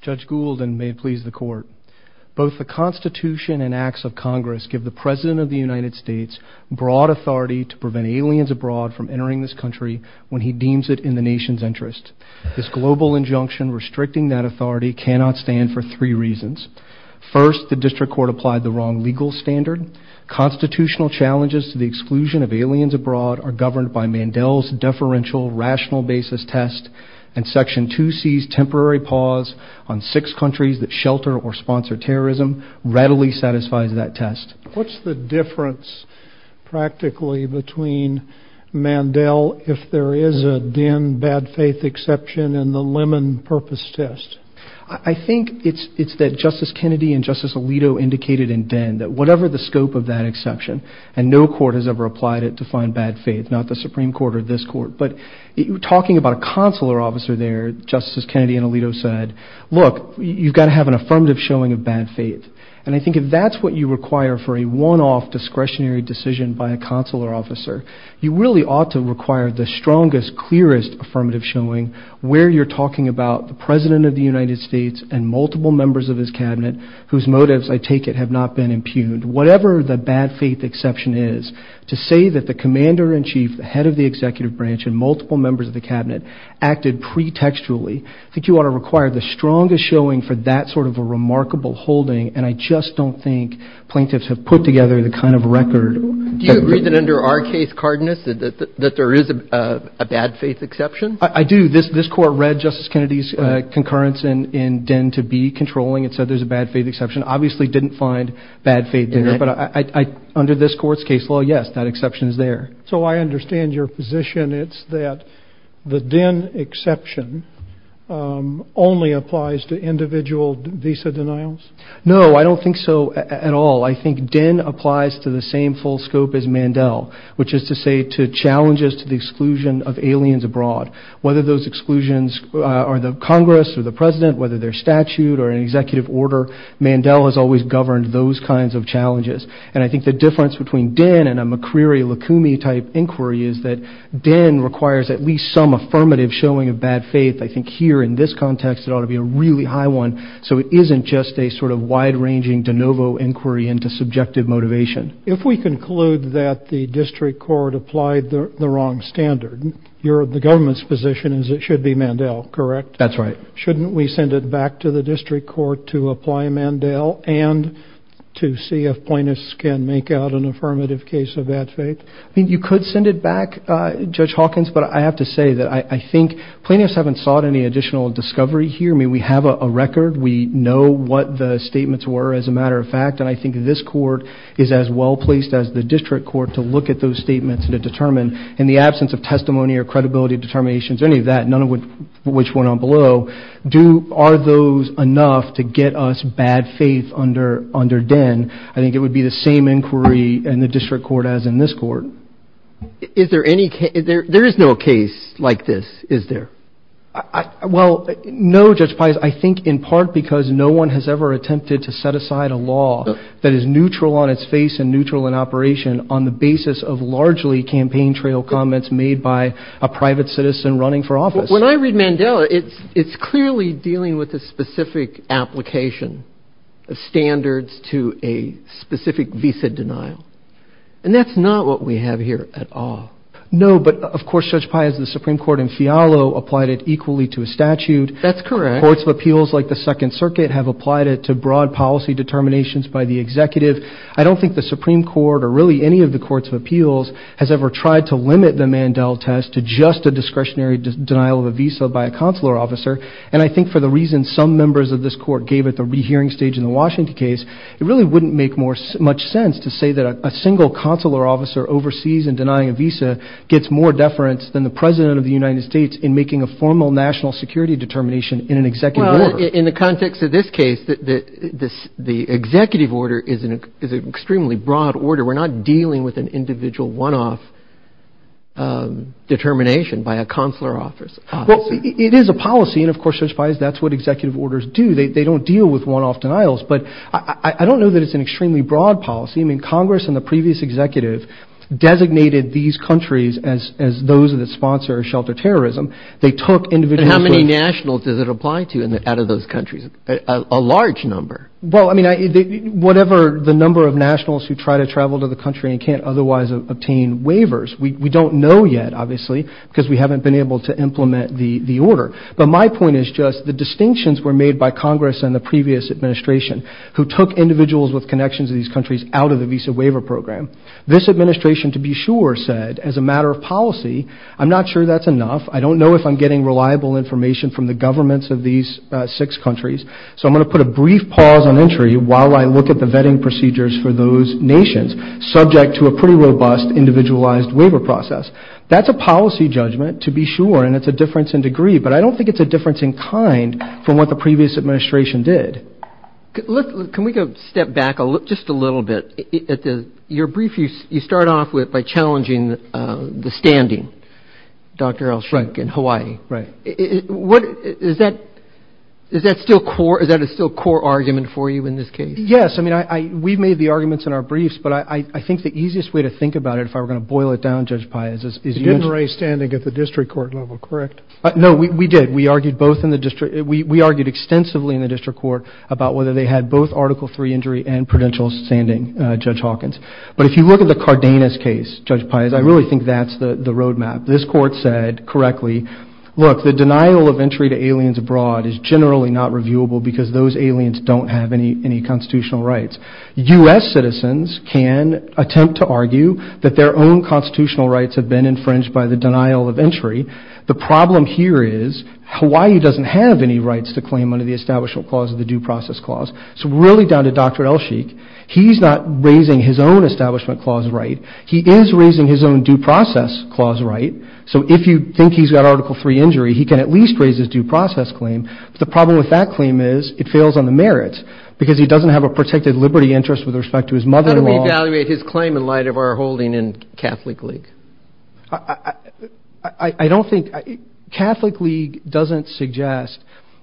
Judge Goulden, may it please the Court. Both the Constitution and acts of Congress give the President of the United States broad authority to prevent aliens abroad from entering this country when he deems it in the nation's interest. This global injunction restricting that authority cannot stand for three reasons. First, the District Court applied the wrong legal standard. Constitutional challenges to the exclusion of aliens abroad are governed by Mandel's deferential rational basis test, and Section 2C's temporary pause on six countries that shelter or sponsor terrorism readily satisfies that test. What's the difference practically between Mandel, if there is a DEN bad faith exception in the Lemon purpose test? I think it's that Justice Kennedy and Justice Alito indicated in DEN that whatever the scope of that exception, and no court has ever applied it to find bad faith, not the Supreme Court or this Court. But talking about consular officer there, Justice Kennedy and Alito said, look, you've got to have an affirmative showing of bad faith. And I think if that's what you require for a one-off discretionary decision by a consular officer, you really ought to require the strongest, clearest affirmative showing where you're talking about the President of the United States and multiple members of his Cabinet whose motives, I take it, have not been impugned. Whatever the bad faith exception is, to say that the Commander-in-Chief, the head of the Executive Branch, and multiple members of the Cabinet acted pre-textually, I think you ought to require the strongest showing for that sort of a remarkable holding, and I just don't think plaintiffs have put together the kind of record. Do you agree that under our case, Cardinus, that there is a bad faith exception? I do. This Court read Justice Kennedy's concurrence in DEN to be controlling and said there's a bad faith exception. Obviously, it didn't find bad faith in it, but under this Court's case law, yes, that exception's there. So, I understand your position, it's that the DEN exception only applies to individual visa denials? No, I don't think so at all. I think DEN applies to the same full scope as Mandel, which is to say to challenges to the exclusion of aliens abroad. Whether those exclusions are the Congress or the President, whether they're statute or an executive order, Mandel has always governed those kinds of challenges, and I think the difference between DEN and a McCreary-Lacoumie type inquiry is that DEN requires at least some affirmative showing of bad faith. I think here, in this context, it ought to be a really high one, so it isn't just a sort of wide-ranging de novo inquiry into subjective motivation. If we conclude that the District Court applied the wrong standard, the government's position is it should be Mandel, correct? That's right. So, shouldn't we send it back to the District Court to apply Mandel and to see if plaintiffs can make out an affirmative case of bad faith? You could send it back, Judge Hawkins, but I have to say that I think plaintiffs haven't sought any additional discovery here. We have a record. We know what the statements were, as a matter of fact, and I think this Court is as well-placed as the District Court to look at those statements and to determine, in the absence of testimony or credibility determinations or any of that, none of which went on below, are those enough to get us bad faith under DEN? I think it would be the same inquiry in the District Court as in this Court. Is there any case? There is no case like this, is there? Well, no, Judge Pines. I think in part because no one has ever attempted to set aside a law that is neutral on its When I read Mandela, it's clearly dealing with a specific application of standards to a specific visa denial, and that's not what we have here at all. No, but of course, Judge Pines, the Supreme Court in Fialo applied it equally to a statute. Courts of Appeals like the Second Circuit have applied it to broad policy determinations by the executive. I don't think the Supreme Court or really any of the Courts of Appeals has ever tried to limit the Mandela test to just a discretionary denial of a visa by a consular officer, and I think for the reason some members of this Court gave at the rehearing stage in the Washington case, it really wouldn't make much sense to say that a single consular officer overseas and denying a visa gets more deference than the President of the United States in making a formal national security determination in an executive order. In the context of this case, the executive order is an extremely broad order. We're not dealing with an individual one-off determination by a consular officer. It is a policy, and of course, Judge Pines, that's what executive orders do. They don't deal with one-off denials, but I don't know that it's an extremely broad policy. I mean, Congress and the previous executive designated these countries as those that sponsor shelter terrorism. How many nationals does it apply to out of those countries, a large number? Well, I mean, whatever the number of nationals who try to travel to the country and can't otherwise obtain waivers, we don't know yet, obviously, because we haven't been able to implement the order, but my point is just the distinctions were made by Congress and the previous administration who took individuals with connections to these countries out of the visa waiver program. This administration, to be sure, said as a matter of policy, I'm not sure that's enough. I don't know if I'm getting reliable information from the governments of these six countries, so I'm going to put a brief pause on entry while I look at the vetting procedures for those nations subject to a pretty robust individualized waiver process. That's a policy judgment, to be sure, and it's a difference in degree, but I don't think it's a difference in kind from what the previous administration did. Can we go step back just a little bit? Your brief, you start off with by challenging the standing, Dr. Elshrek, in Hawaii. Right. Is that a still core argument for you in this case? Yes. I mean, we've made the arguments in our briefs, but I think the easiest way to think about it, if I were going to boil it down, Judge Pai, is this- You didn't raise standing at the district court level, correct? No, we did. We argued extensively in the district court about whether they had both Article III injury and prudential standing, Judge Hawkins, but if you look at the Cardenas case, Judge Pai, I really think that's the roadmap. This court said correctly, look, the denial of entry to aliens abroad is generally not reviewable because those aliens don't have any constitutional rights. U.S. citizens can attempt to argue that their own constitutional rights have been infringed by the denial of entry. The problem here is Hawaii doesn't have any rights to claim under the Establishment Clause of the Due Process Clause. It's really down to Dr. Elsheikh. He's not raising his own Establishment Clause right. He is raising his own Due Process Clause right, so if you think he's got Article III injury, he can at least raise his due process claim. The problem with that claim is it fails on the merits because he doesn't have a protected liberty interest with respect to his mother-in-law. How do we evaluate his claim in light of our holding in Catholic League? I don't think, Catholic League doesn't suggest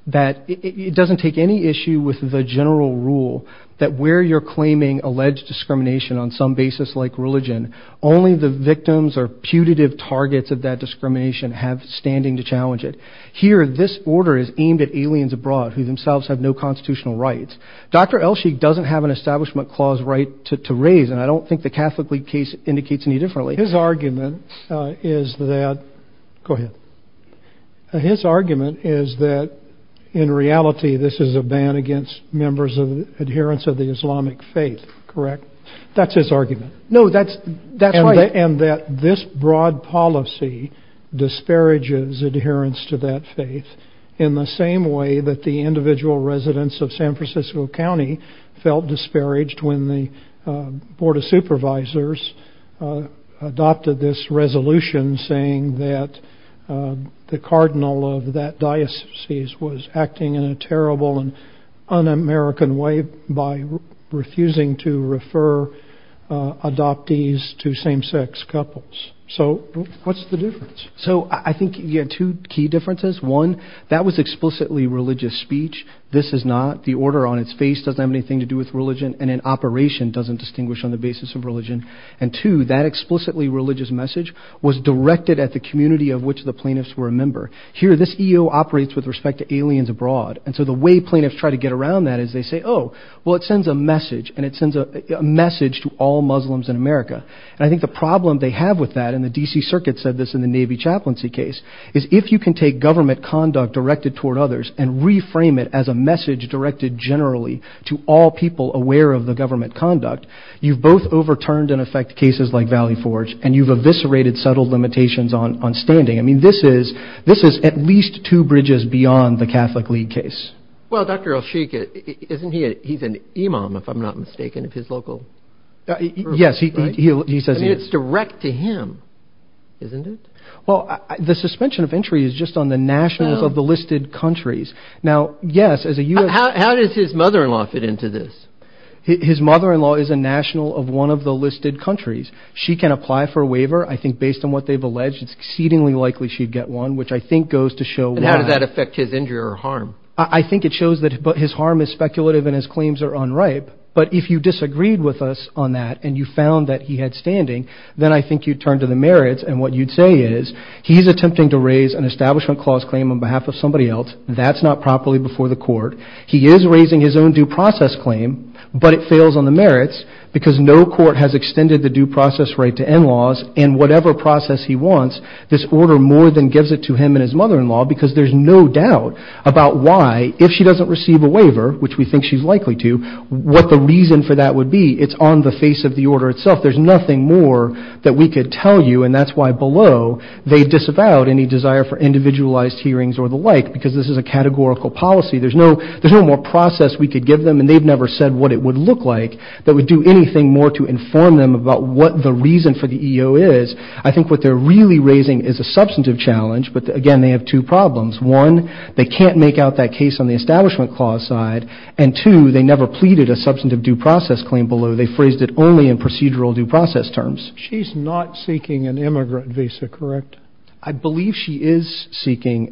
that, it doesn't take any issue with the general rule that where you're claiming alleged discrimination on some basis like religion, only the victims or putative targets of that discrimination have standing to challenge it. Here this order is aimed at aliens abroad who themselves have no constitutional rights. Dr. Elsheikh doesn't have an Establishment Clause right to raise and I don't think the Catholic League case indicates any differently. His argument is that, go ahead, his argument is that in reality this is a ban against members of adherence of the Islamic faith, correct? That's his argument. No, that's right. And that this broad policy disparages adherence to that faith in the same way that the individual residents of San Francisco County felt disparaged when the Board of Supervisors of the Catholic League adopted this resolution saying that the Cardinal of that diocese was acting in a terrible and un-American way by refusing to refer adoptees to same-sex couples. So what's the difference? So I think you have two key differences. One, that was explicitly religious speech. This is not. The order on its face doesn't have anything to do with religion and in operation doesn't distinguish on the basis of religion. And two, that explicitly religious message was directed at the community of which the plaintiffs were a member. Here this EO operates with respect to aliens abroad and so the way plaintiffs try to get around that is they say, oh, well it sends a message and it sends a message to all Muslims in America. And I think the problem they have with that and the DC Circuit said this in the Navy Chaplaincy case is if you can take government conduct directed toward others and reframe it as a message directed generally to all people aware of the government conduct, you've both overturned in effect cases like Valley Forge and you've eviscerated settled limitations on standing. I mean, this is at least two bridges beyond the Catholic League case. Well, Dr. El-Sheikh, isn't he an imam if I'm not mistaken, if his local... Yes, he says he is. I mean, it's direct to him, isn't it? Well, the suspension of entry is just on the nationals of the listed countries. Now, yes, as a U.S. How does his mother-in-law fit into this? His mother-in-law is a national of one of the listed countries. She can apply for a waiver. I think based on what they've alleged, it's exceedingly likely she'd get one, which I think goes to show... And how does that affect his injury or harm? I think it shows that his harm is speculative and his claims are unripe. But if you disagreed with us on that and you found that he had standing, then I think you'd turn to the merits and what you'd say is he's attempting to raise an establishment clause claim on behalf of somebody else. That's not properly before the court. He is raising his own due process claim, but it fails on the merits because no court has extended the due process right to in-laws and whatever process he wants, this order more than gives it to him and his mother-in-law because there's no doubt about why, if she doesn't receive a waiver, which we think she's likely to, what the reason for that would be. It's on the face of the order itself. There's nothing more that we could tell you and that's why below they disavow any desire for individualized hearings or the like because this is a categorical policy. There's no more process we could give them and they've never said what it would look like that would do anything more to inform them about what the reason for the EO is. I think what they're really raising is a substantive challenge, but again, they have two problems. One, they can't make out that case on the establishment clause side and two, they never pleaded a substantive due process claim below. They phrased it only in procedural due process terms. She's not seeking an immigrant visa, correct? I believe she is seeking.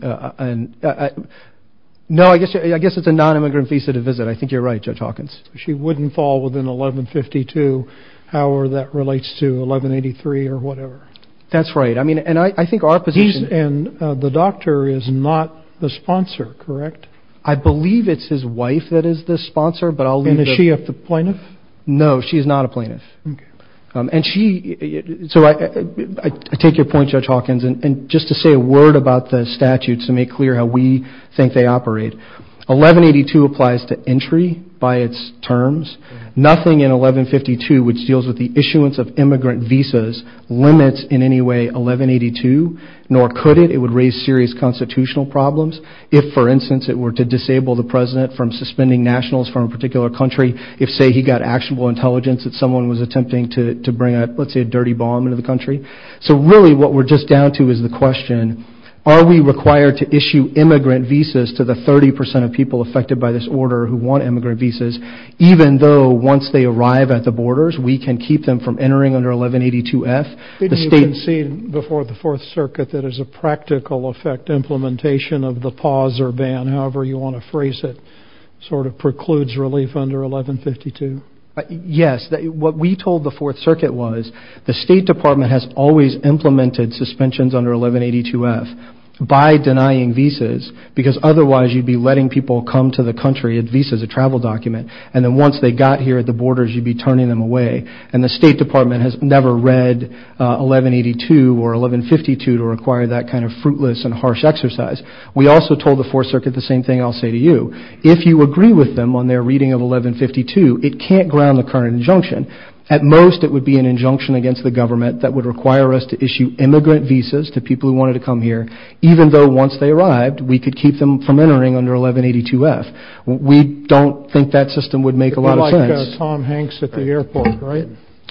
No, I guess it's a non-immigrant visa to visit. I think you're right, Judge Hawkins. She wouldn't fall within 1152, however that relates to 1183 or whatever. That's right. I mean, and I think our position. And the doctor is not the sponsor, correct? I believe it's his wife that is the sponsor, but I'll leave it. Is she a plaintiff? No, she's not a plaintiff. I take your point, Judge Hawkins, and just to say a word about the statutes to make clear how we think they operate. 1182 applies to entry by its terms. Nothing in 1152 which deals with the issuance of immigrant visas limits in any way 1182, nor could it. It would raise serious constitutional problems. If, for instance, it were to disable the president from suspending nationals from a particular country, if, say, he got actionable intelligence that someone was attempting to bring, let's say, a dirty bomb into the country. So really what we're just down to is the question, are we required to issue immigrant visas to the 30 percent of people affected by this order who want immigrant visas, even though once they arrive at the borders, we can keep them from entering under 1182F? You can see before the Fourth Circuit that is a practical effect implementation of the pause or ban, however you want to phrase it, sort of precludes relief under 1152. Yes. What we told the Fourth Circuit was the State Department has always implemented suspensions under 1182F by denying visas because otherwise you'd be letting people come to the country with visas, a travel document, and then once they got here at the borders, you'd be turning them away, and the State Department has never read 1182 or 1152 to require that kind of fruitless and harsh exercise. We also told the Fourth Circuit the same thing I'll say to you. If you agree with them on their reading of 1152, it can't ground the current injunction. At most, it would be an injunction against the government that would require us to issue immigrant visas to people who wanted to come here, even though once they arrived, we could keep them from entering under 1182F. We don't think that system would make a lot of sense. Like Tom Hanks at the airport, right?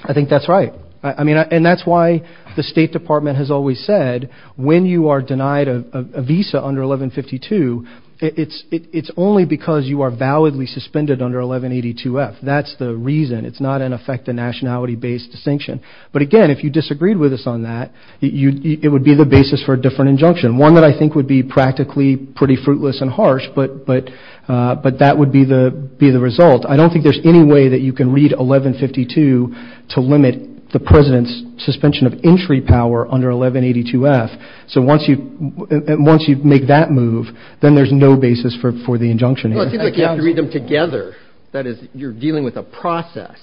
I think that's right. And that's why the State Department has always said that when you are denied a visa under 1152, it's only because you are validly suspended under 1182F. That's the reason. It's not, in effect, a nationality-based sanction. But again, if you disagreed with us on that, it would be the basis for a different injunction, one that I think would be practically pretty fruitless and harsh, but that would be the result. I don't think there's any way that you can read 1152 to limit the President's suspension of entry power under 1182F. So once you make that move, then there's no basis for the injunction. Well, I think you have to read them together. That is, you're dealing with a process.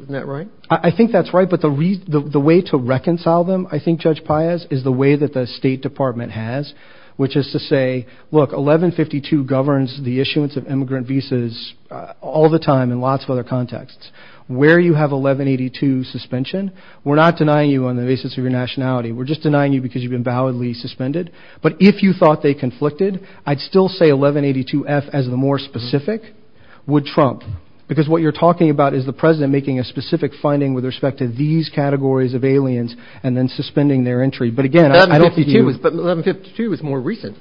Isn't that right? I think that's right. But the way to reconcile them, I think, Judge Paius, is the way that the State Department has, which is to say, look, 1152 governs the issuance of immigrant visas all the time in lots of other contexts. Where you have 1182 suspension, we're not denying you on the basis of your nationality. We're just denying you because you've been validly suspended. But if you thought they conflicted, I'd still say 1182F as the more specific would trump. Because what you're talking about is the President making a specific finding with respect to these categories of aliens and then suspending their entry. But again, I'd have to give you... But 1152 was more recent.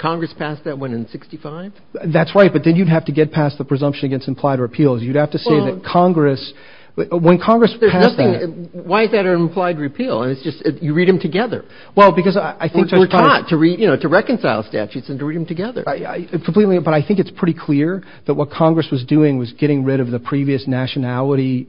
Congress passed that one in 65? That's right, but then you'd have to get past the presumption against implied repeals. You'd have to say that Congress... When Congress passed... Why is that an implied repeal? You read them together. Well, because I think... We're taught to reconcile statutes and to read them together. Completely, but I think it's pretty clear that what Congress was doing was getting rid of the previous nationality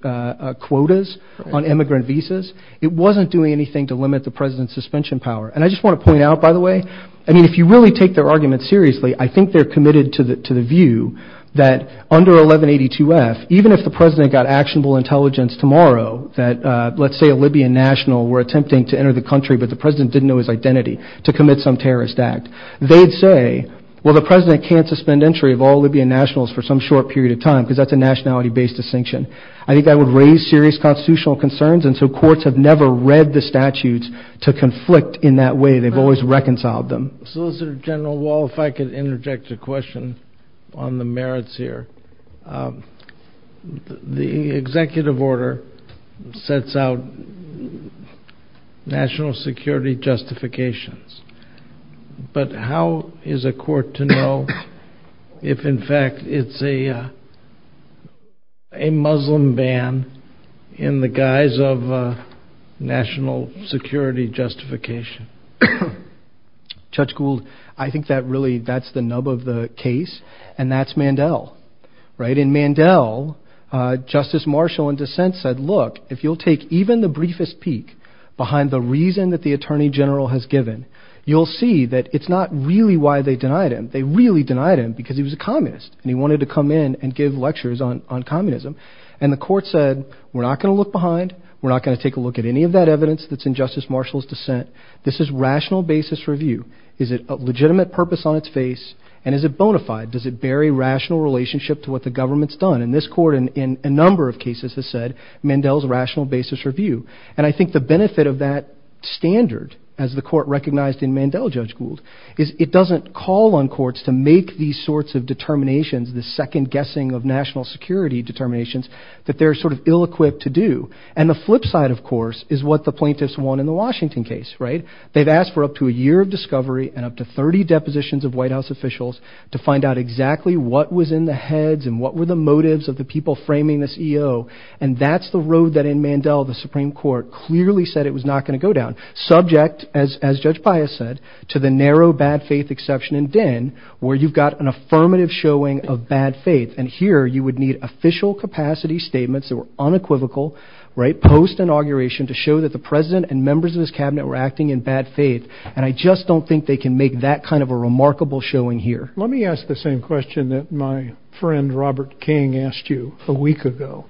quotas on immigrant visas. It wasn't doing anything to limit the President's suspension power. And I just want to point out, by the way, I mean, if you really take their argument seriously, I think they're committed to the view that under 1182-F, even if the President got actionable intelligence tomorrow that, let's say, a Libyan national were attempting to enter the country but the President didn't know his identity to commit some terrorist act, they'd say, well, the President can't suspend entry of all Libyan nationals for some short period of time because that's a nationality-based distinction. I think that would raise serious constitutional concerns, and so courts have never read the statutes to conflict in that way. They've always reconciled them. Solicitor General Wall, if I could interject a question on the merits here. The executive order sets out national security justifications, but how is a court to know if, in fact, it's a Muslim ban in the guise of national security justification? Judge Gould, I think that's the nub of the case, and that's Mandel. In Mandel, Justice Marshall in dissent said, look, if you'll take even the briefest peek behind the reason that the Attorney General has given, you'll see that it's not really why they denied him. They really denied him because he was a communist and he wanted to come in and give lectures on communism, and the court said, we're not going to look behind, we're not going to take a look at any of that evidence that's in Justice Marshall's dissent. This is rational basis review. Is it a legitimate purpose on its face, and is it bona fide? Does it bear a rational relationship to what the government's done? And this court in a number of cases has said, Mandel's rational basis review. And I think the benefit of that standard, as the court recognized in Mandel, Judge Gould, is it doesn't call on courts to make these sorts of determinations, the second guessing of national security determinations, that they're sort of ill-equipped to do. And the flip side, of course, is what the plaintiffs want in the Washington case, right? They've asked for up to a year of discovery and up to 30 depositions of White House officials to find out exactly what was in the heads and what were the motives of the people framing this EO, and that's the road that in Mandel the Supreme Court clearly said it was not going to go down, subject, as Judge Pius said, to the narrow bad faith exception in Dinn, where you've got an affirmative showing of bad faith, and here you would need official capacity statements that were unequivocal, right, post-inauguration, to show that the president and members of his cabinet were acting in bad faith, and I just don't think they can make that kind of a remarkable showing here. Let me ask the same question that my friend Robert King asked you a week ago.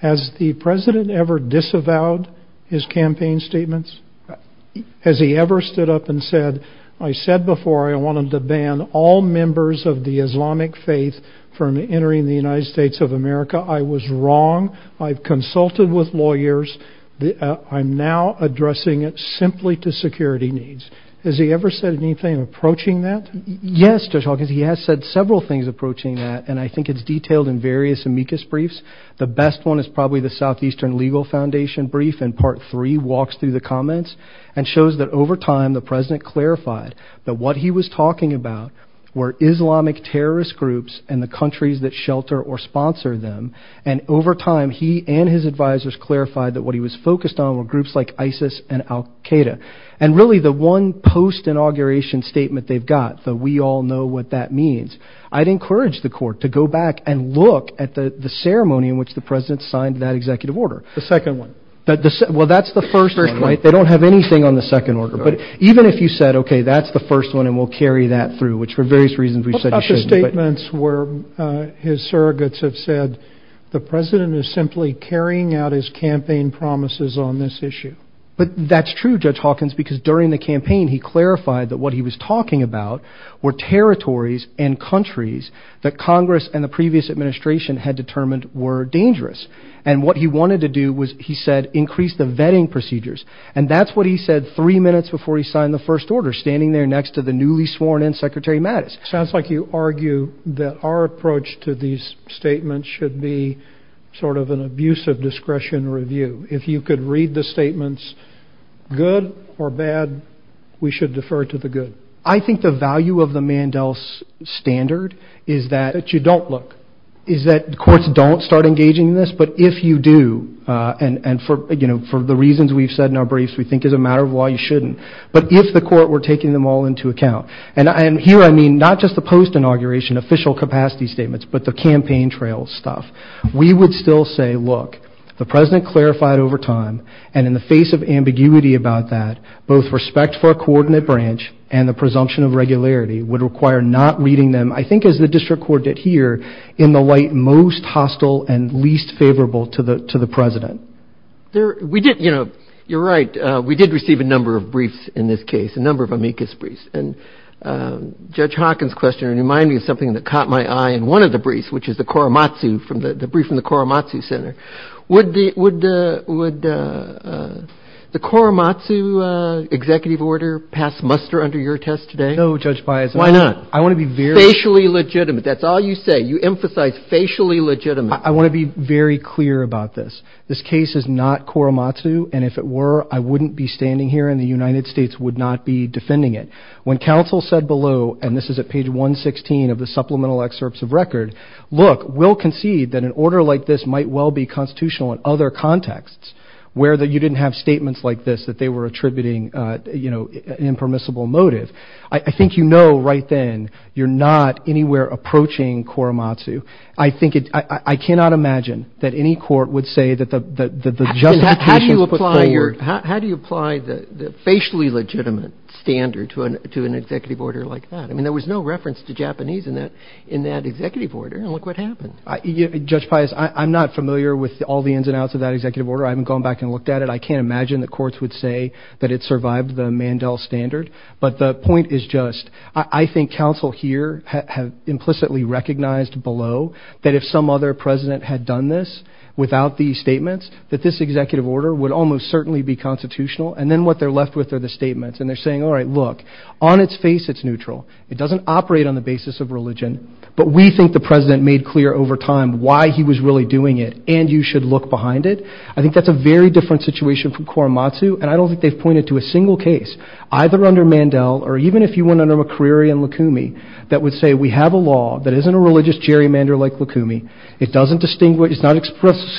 Has the president ever disavowed his campaign statements? Has he ever stood up and said, I said before I wanted to ban all members of the Islamic faith from entering the United States of America? I was wrong. I've consulted with lawyers. I'm now addressing it simply to security needs. Has he ever said anything approaching that? Yes, Judge Hawkins. He has said several things approaching that, and I think it's detailed in various amicus briefs. The best one is probably the Southeastern Legal Foundation brief, and part three walks through the comments and shows that over time the president clarified that what he was talking about were Islamic terrorist groups and the countries that shelter or sponsor them, and over time he and his advisors clarified that what he was focused on were groups like ISIS and al-Qaeda, and really the one post-inauguration statement they've got, though we all know what that means, I'd encourage the court to go back and look at the ceremony in which the president signed that executive order. The second one. Well, that's the first one. They don't have anything on the second order, but even if you said, okay, that's the first one, and we'll carry that through, which for various reasons we've said you shouldn't. Those statements were his surrogates have said the president is simply carrying out his campaign promises on this issue. But that's true, Judge Hawkins, because during the campaign he clarified that what he was talking about were territories and countries that Congress and the previous administration had determined were dangerous, and what he wanted to do was, he said, increase the vetting procedures, and that's what he said three minutes before he signed the first order, standing there next to the newly sworn-in Secretary Mattis. It sounds like you argue that our approach to these statements should be sort of an abusive discretion review. If you could read the statements, good or bad, we should defer to the good. I think the value of the Mandel standard is that you don't look, is that courts don't start engaging in this, but if you do, and for the reasons we've said in our briefs, we think it's a matter of why you shouldn't, but if the court were taking them all into account. And here I mean not just the post-inauguration official capacity statements, but the campaign trail stuff. We would still say, look, the President clarified over time, and in the face of ambiguity about that, both respect for a coordinate branch and the presumption of regularity would require not reading them, I think as the district court did here, in the light most hostile and least favorable to the President. You're right, we did receive a number of briefs in this case, a number of amicus briefs. And Judge Hawkins' question reminded me of something that caught my eye in one of the briefs, which is the brief from the Korematsu Center. Would the Korematsu executive order pass muster under your test today? No, Judge Bias. Why not? Facially legitimate, that's all you say. You emphasize facially legitimate. I want to be very clear about this. This case is not Korematsu, and if it were, I wouldn't be standing here and the United States would not be defending it. When counsel said below, and this is at page 116 of the supplemental excerpts of record, look, we'll concede that an order like this might well be constitutional in other contexts, where you didn't have statements like this that they were attributing an impermissible motive. I think you know right then you're not anywhere approaching Korematsu. I cannot imagine that any court would say that the judge's position is clear. How do you apply the facially legitimate standard to an executive order like that? I mean, there was no reference to Japanese in that executive order, and look what happened. Judge Bias, I'm not familiar with all the ins and outs of that executive order. I haven't gone back and looked at it. I can't imagine that courts would say that it survived the Mandel standard. But the point is just I think counsel here have implicitly recognized below that if some other president had done this without these statements, that this executive order would almost certainly be constitutional, and then what they're left with are the statements. And they're saying, all right, look, on its face it's neutral. It doesn't operate on the basis of religion, but we think the president made clear over time why he was really doing it, and you should look behind it. I think that's a very different situation from Korematsu, and I don't think they've pointed to a single case either under Mandel or even if you went under McCreary and Lukumi that would say we have a law that isn't a religious gerrymander like Lukumi. It's not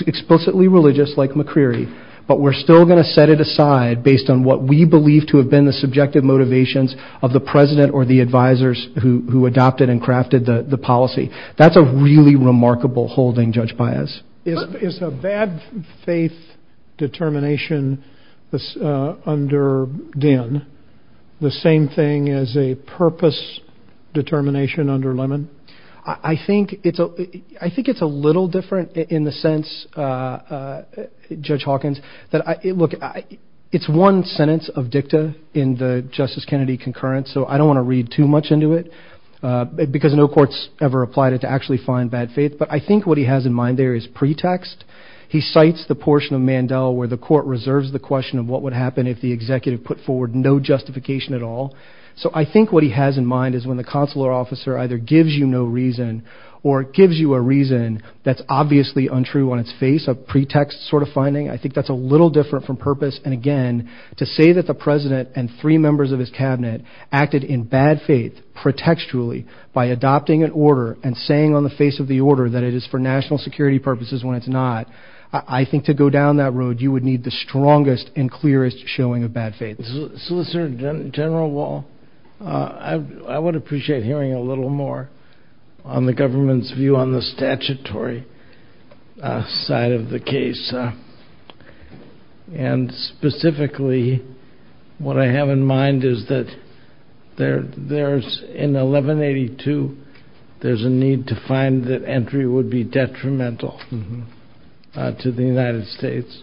explicitly religious like McCreary, but we're still going to set it aside based on what we believe to have been the subjective motivations of the president or the advisors who adopted and crafted the policy. That's a really remarkable holding judged by us. Is a bad faith determination under Din the same thing as a purpose determination under Lemon? I think it's a little different in the sense, Judge Hawkins, that look, it's one sentence of dicta in the Justice Kennedy concurrence, so I don't want to read too much into it because no court's ever applied it to actually find bad faith, but I think what he has in mind there is pretext. He cites the portion of Mandel where the court reserves the question of what would happen if the executive put forward no justification at all. So I think what he has in mind is when the consular officer either gives you no reason or gives you a reason that's obviously untrue on its face, a pretext sort of finding, I think that's a little different from purpose, and again, to say that the president and three members of his cabinet acted in bad faith pretextually by adopting an order and saying on the face of the order that it is for national security purposes when it's not, I think to go down that road, you would need the strongest and clearest showing of bad faith. Solicitor General Wall, I would appreciate hearing a little more on the government's view on the statutory side of the case, and specifically what I have in mind is that there's, in 1182, there's a need to find that entry would be detrimental to the United States,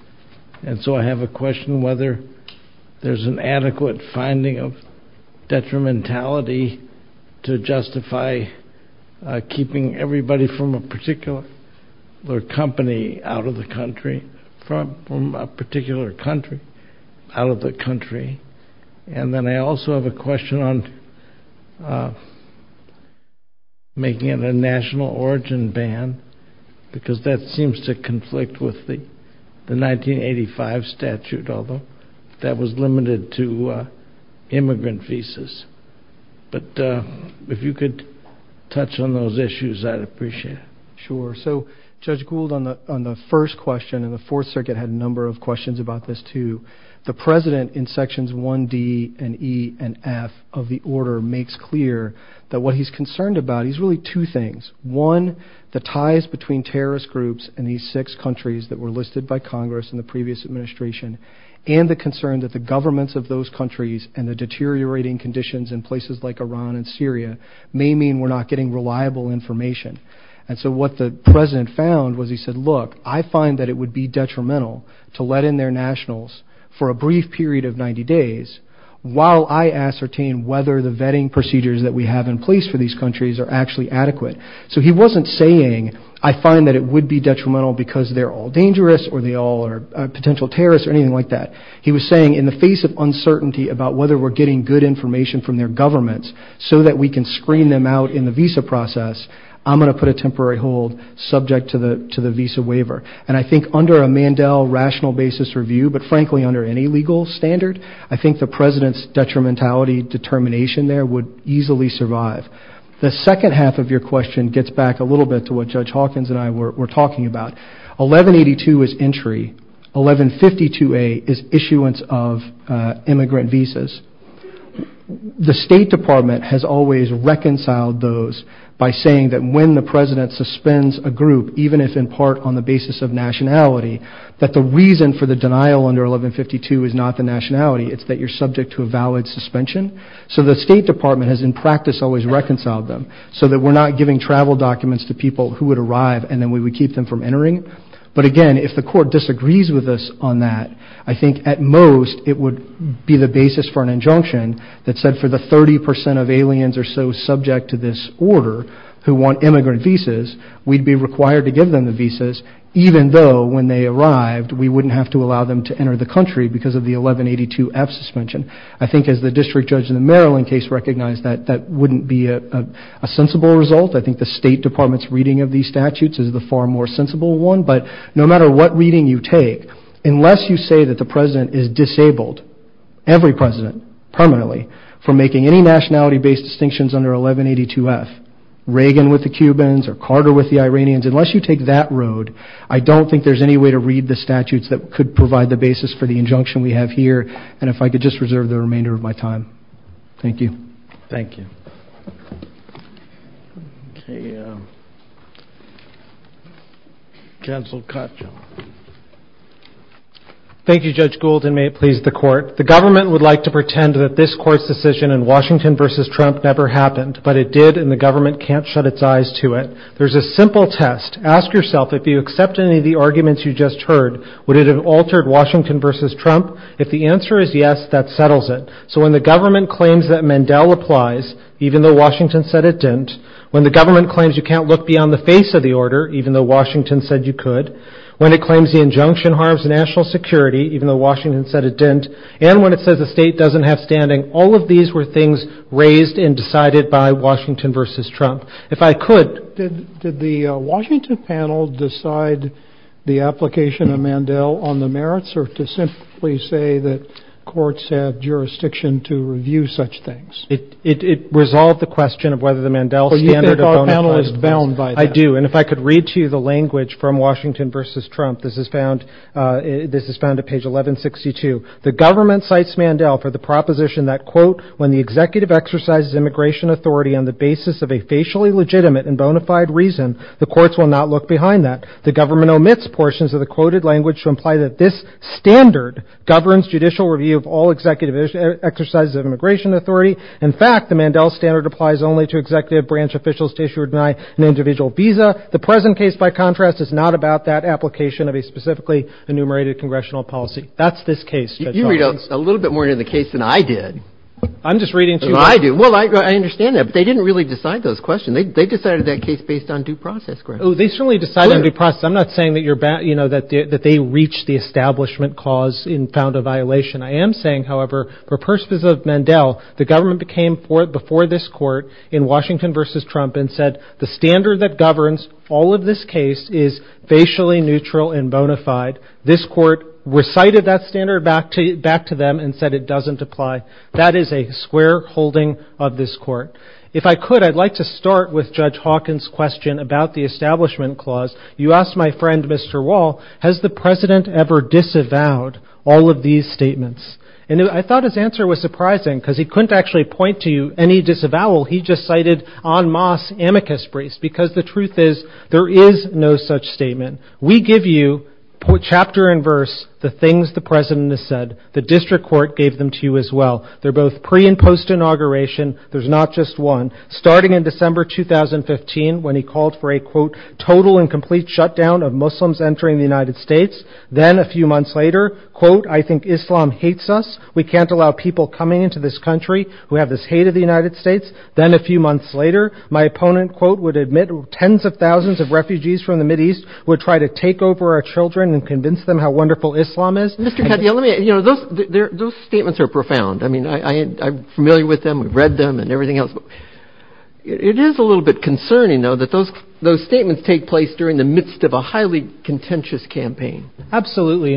and so I have a question whether there's an adequate finding of detrimentality to justify keeping everybody from a particular company out of the country, from a particular country, out of the country, and then I also have a question on making it a national origin ban, because that seems to conflict with the 1985 statute, although that was limited to immigrant visas, but if you could touch on those issues, I'd appreciate it. Sure. So Judge Gould, on the first question, and the Fourth Circuit had a number of questions about this too, the president in sections 1D and E and F of the order makes clear that what he's concerned about, he's really two things. One, the ties between terrorist groups in these six countries that were listed by Congress in the previous administration, and the concern that the governments of those countries and the deteriorating conditions in places like Iran and Syria may mean we're not getting reliable information, and so what the president found was he said, look, I find that it would be detrimental to let in their nationals for a brief period of 90 days while I ascertain whether the vetting procedures that we have in place for these countries are actually adequate. So he wasn't saying I find that it would be detrimental because they're all dangerous or they all are potential terrorists or anything like that. He was saying in the face of uncertainty about whether we're getting good information from their governments so that we can screen them out in the visa process, I'm going to put a temporary hold subject to the visa waiver, and I think under a Mandel rational basis review, but frankly under any legal standard, I think the president's detrimentality determination there would easily survive. The second half of your question gets back a little bit to what Judge Hawkins and I were talking about. 1182 is entry. 1152A is issuance of immigrant visas. The State Department has always reconciled those by saying that when the president suspends a group, even if in part on the basis of nationality, but the reason for the denial under 1152 is not the nationality, it's that you're subject to a valid suspension. So the State Department has in practice always reconciled them so that we're not giving travel documents to people who would arrive and then we would keep them from entering. But again, if the court disagrees with us on that, I think at most it would be the basis for an injunction that said for the 30% of aliens or so subject to this order who want immigrant visas, we'd be required to give them the visas even though when they arrived we wouldn't have to allow them to enter the country because of the 1182F suspension. I think as the District Judge in the Maryland case recognized that that wouldn't be a sensible result. I think the State Department's reading of these statutes is the far more sensible one. But no matter what reading you take, unless you say that the president is disabled, every president primarily, for making any nationality-based distinctions under 1182F, Reagan with the Cubans or Carter with the Iranians, unless you take that road, I don't think there's any way to read the statutes that could provide the basis for the injunction we have here. And if I could just reserve the remainder of my time. Thank you. Thank you. Thank you, Judge Gould, and may it please the Court. The government would like to pretend that this Court's decision in Washington v. Trump never happened, but it did and the government can't shut its eyes to it. There's a simple test. Ask yourself, if you accept any of the arguments you just heard, would it have altered Washington v. Trump if the answer is yes, that settles it. So when the government claims that Mandel applies, even though Washington said it didn't, when the government claims you can't look beyond the face of the order, even though Washington said you could, when it claims the injunction harms national security, even though Washington said it didn't, and when it says the state doesn't have standing, all of these were things raised and decided by Washington v. Trump. If I could... Did the Washington panel decide the application of Mandel on the merits or to simply say that courts have jurisdiction to review such things? It resolved the question of whether the Mandel standard of bona fide is bound by that. I do, and if I could read to you the language from Washington v. Trump, this is found at page 1162. The government cites Mandel for the proposition that, quote, when the executive exercises immigration authority on the basis of a facially legitimate and bona fide reason, the courts will not look behind that. The government omits portions of the quoted language to imply that this standard governs judicial review of all executive exercises of immigration authority. In fact, the Mandel standard applies only to executive branch officials to issue or deny an individual visa. The present case, by contrast, is not about that application of a specifically enumerated congressional policy. That's this case. You read a little bit more into the case than I did. I'm just reading to you... Well, I do. Well, I understand that, but they didn't really decide those questions. They decided that case based on due process. Oh, they certainly decided on due process. I'm not saying that they reached the establishment cause and found a violation. I am saying, however, for persons of Mandel, the government came before this court in Washington v. Trump and said the standard that governs all of this case is facially neutral and bona fide. This court recited that standard back to them and said it doesn't apply. That is a square holding of this court. If I could, I'd like to start with Judge Hawkins' question about the establishment clause. You asked my friend, Mr. Wall, has the president ever disavowed all of these statements? And I thought his answer was surprising because he couldn't actually point to any disavowal. He just cited en masse amicus briefs because the truth is there is no such statement. We give you, chapter and verse, the things the president has said. The district court gave them to you as well. They're both pre- and post-inauguration. There's not just one. Starting in December 2015, when he called for a total and complete shutdown of Muslims entering the United States, then a few months later, I think Islam hates us. We can't allow people coming into this country who have this hate of the United States. Then a few months later, my opponent would admit tens of thousands of refugees from the Mideast would try to take over our children and convince them how wonderful Islam is. Those statements are profound. I'm familiar with them. We've read them and everything else. It is a little bit concerning, though, that those statements take place during the midst of a highly contentious campaign. Absolutely.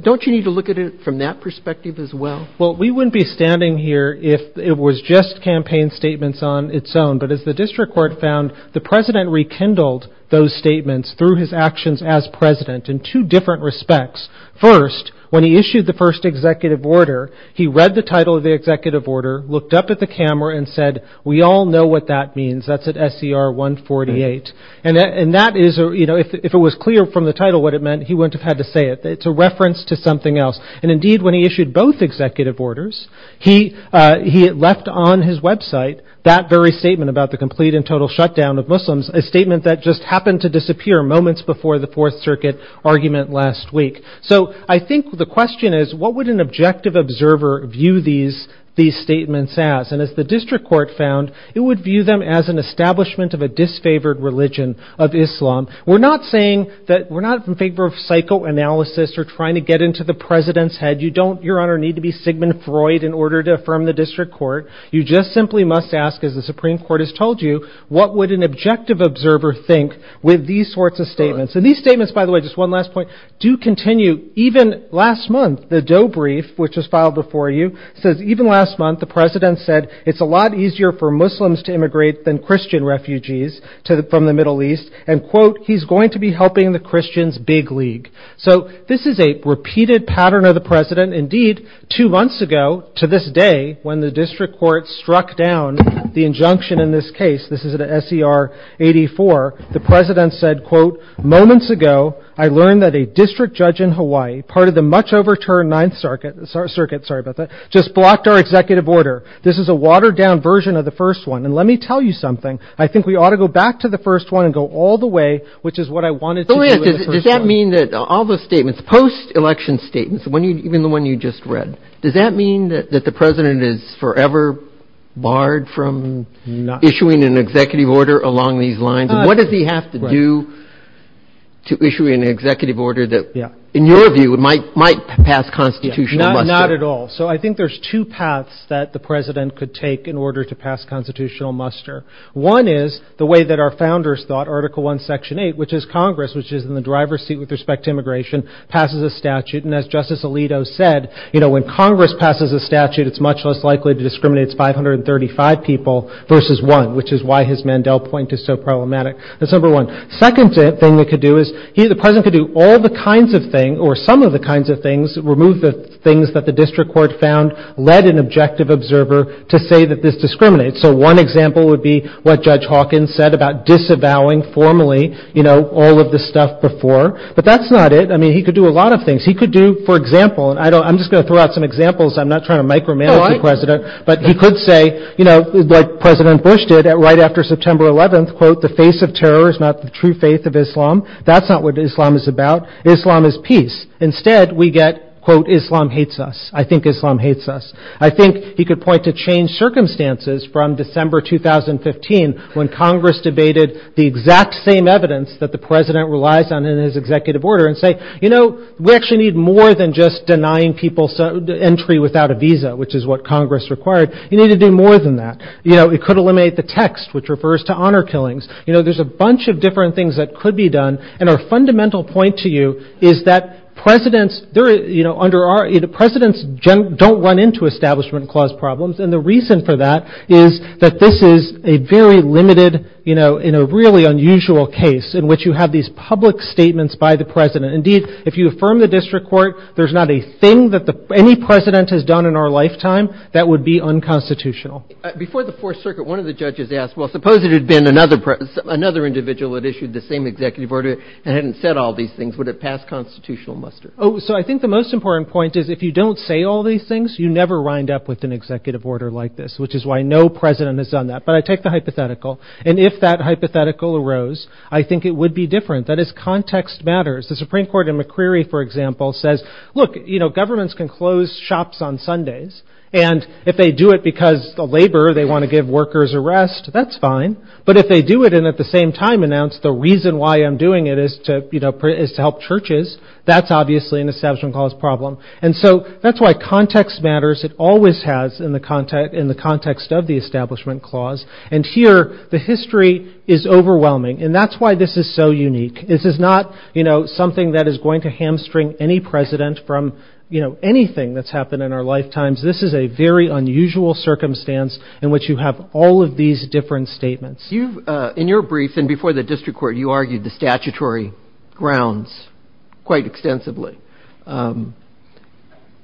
Don't you need to look at it from that perspective as well? We wouldn't be standing here if it was just campaign statements on its own. But as the district court found, the president rekindled those statements through his actions as president in two different respects. First, when he issued the first executive order, he read the title of the executive order, looked up at the camera and said, we all know what that means. That's at SCR 148. If it was clear from the title what it meant, he wouldn't have had to say it. It's a reference to something else. Indeed, when he issued both executive orders, he left on his website that very statement about the complete and total shutdown of Muslims, a statement that just happened to disappear moments before the Fourth Circuit argument last week. So I think the question is, what would an objective observer view these statements as? And as the district court found, it would view them as an establishment of a disfavored religion of Islam. We're not saying that we're not in favor of psychoanalysis or trying to get into the president's head. You don't, Your Honor, need to be Sigmund Freud in order to affirm the district court. You just simply must ask, as the Supreme Court has told you, what would an objective observer think with these sorts of statements? And these statements, by the way, just one last point, do continue. Even last month, the Doe Brief, which was filed before you, says even last month, the president said, it's a lot easier for Muslims to immigrate than Christian refugees from the Middle East, and, quote, he's going to be helping the Christians' big league. So this is a repeated pattern of the president. Indeed, two months ago, to this day, when the district court struck down the injunction in this case, this is an SCR 84, the president said, quote, moments ago, I learned that a district judge in Hawaii, part of the much overturned Ninth Circuit, just blocked our executive order. This is a watered-down version of the first one, and let me tell you something. I think we ought to go back to the first one and go all the way, which is what I wanted to do in the first one. Does that mean that all those statements, post-election statements, even the one you just read, does that mean that the president is forever barred from issuing an executive order along these lines? What does he have to do to issue an executive order that, in your view, might pass constitutional muster? Not at all. So I think there's two paths that the president could take in order to pass constitutional muster. One is the way that our founders thought, Article I, Section 8, which is Congress, which is in the driver's seat with respect to immigration, passes a statute, and as Justice Alito said, when Congress passes a statute, it's much less likely to discriminate 535 people versus one, which is why his Mandel point is so problematic. That's number one. Second thing he could do is, the president could do all the kinds of things, or some of the kinds of things, remove the things that the district court found led an objective observer to say that this discriminates. So one example would be what Judge Hawkins said about disavowing formally, you know, all of this stuff before. But that's not it. I mean, he could do a lot of things. He could do, for example, and I'm just going to throw out some examples. I'm not trying to micromanage the president. But he could say, you know, what President Bush did right after September 11th, quote, the face of terror is not the true faith of Islam. That's not what Islam is about. Islam is peace. Instead, we get, quote, Islam hates us. I think Islam hates us. I think he could point to changed circumstances from December 2015 when Congress debated the exact same evidence that the president relies on in his executive order and say, you know, we actually need more than just denying people entry without a visa, which is what Congress required. You need to do more than that. You know, it could eliminate the text, which refers to honor killings. You know, there's a bunch of different things that could be done. And a fundamental point to you is that presidents, you know, the presidents don't run into establishment clause problems. And the reason for that is that this is a very limited, you know, in a really unusual case in which you have these public statements by the president. Indeed, if you affirm the district court, there's not a thing that any president has done in our lifetime that would be unconstitutional. Before the Fourth Circuit, one of the judges asked, well, suppose it had been another president, another individual that issued the same executive order and hadn't said all these things. Would it pass constitutional muster? Oh, so I think the most important point is if you don't say all these things, you never wind up with an executive order like this, which is why no president has done that. But I take the hypothetical. And if that hypothetical arose, I think it would be different. That is, context matters. The Supreme Court in McCreary, for example, says, look, you know, governments can close shops on Sundays. And if they do it because of labor, they want to give workers a rest. That's fine. But if they do it, and at the same time announce the reason why I'm doing it is to, you know, is to help churches, that's obviously an Establishment Clause problem. And so that's why context matters. It always has in the context of the Establishment Clause. And here, the history is overwhelming. And that's why this is so unique. This is not, you know, something that is going to hamstring any president from, you know, anything that's happened in our lifetimes. This is a very unusual circumstance in which you have all of these different statements. You've, in your brief, and before the district court, you argued the statutory grounds quite extensively.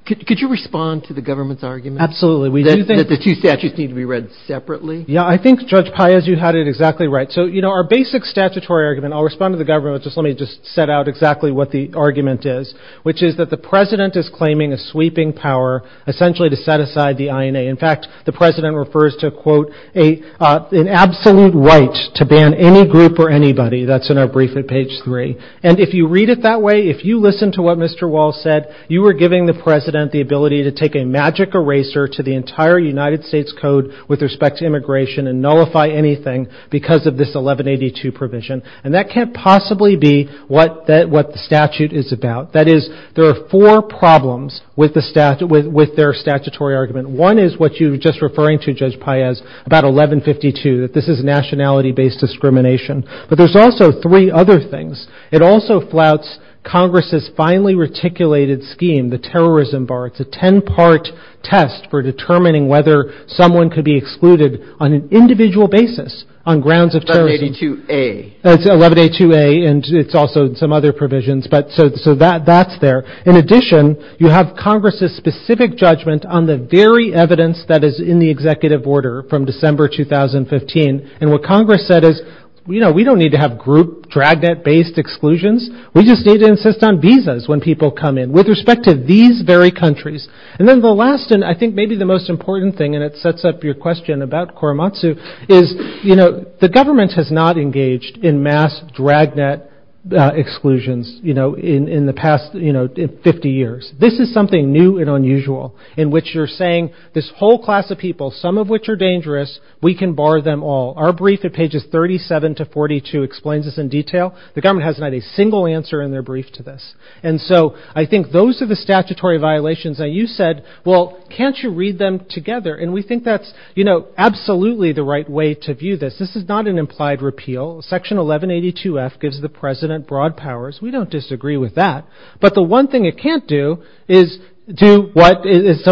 Could you respond to the government's argument? Absolutely. That the two statutes need to be read separately? Yeah, I think Judge Paez, you had it exactly right. So, you know, our basic statutory argument, I'll respond to the government, but let me just set out exactly what the argument is, which is that the president is claiming a sweeping power, essentially to set aside the INA. In fact, the president refers to, quote, an absolute right to ban any group or anybody. That's in our brief at page three. And if you read it that way, if you listen to what Mr. Wall said, you are giving the president the ability to take a magic eraser to the entire United States Code with respect to immigration and nullify anything because of this 1182 provision. And that can't possibly be what the statute is about. That is, there are four problems with their statutory argument. One is what you were just referring to, Judge Paez, about 1152, that this is a nationality-based discrimination. But there's also three other things. It also flouts Congress's finely-reticulated scheme, the terrorism bar. It's a ten-part test for determining whether someone could be excluded on an individual basis on grounds of terrorism. 1182A. That's 1182A, and it's also some other provisions. So that's there. In addition, you have Congress's specific judgment on the very evidence that is in the executive order from December 2015. And what Congress said is, you know, we don't need to have group, dragnet-based exclusions. We just need to insist on visas when people come in with respect to these very countries. And then the last, and I think maybe the most important thing, and it sets up your question about Korematsu, is, you know, the government has not engaged in mass dragnet exclusions, you know, in the past 50 years. This is something new and unusual, in which you're saying this whole class of people, some of which are dangerous, we can bar them all. Our brief at pages 37 to 42 explains this in detail. The government has not a single answer in their brief to this. And so I think those are the statutory violations. Now, you said, well, can't you read them together? And we think that's, you know, absolutely the right way to view this. This is not an implied repeal. Section 1182-F gives the president broad powers. We don't disagree with that. But the one thing it can't do is to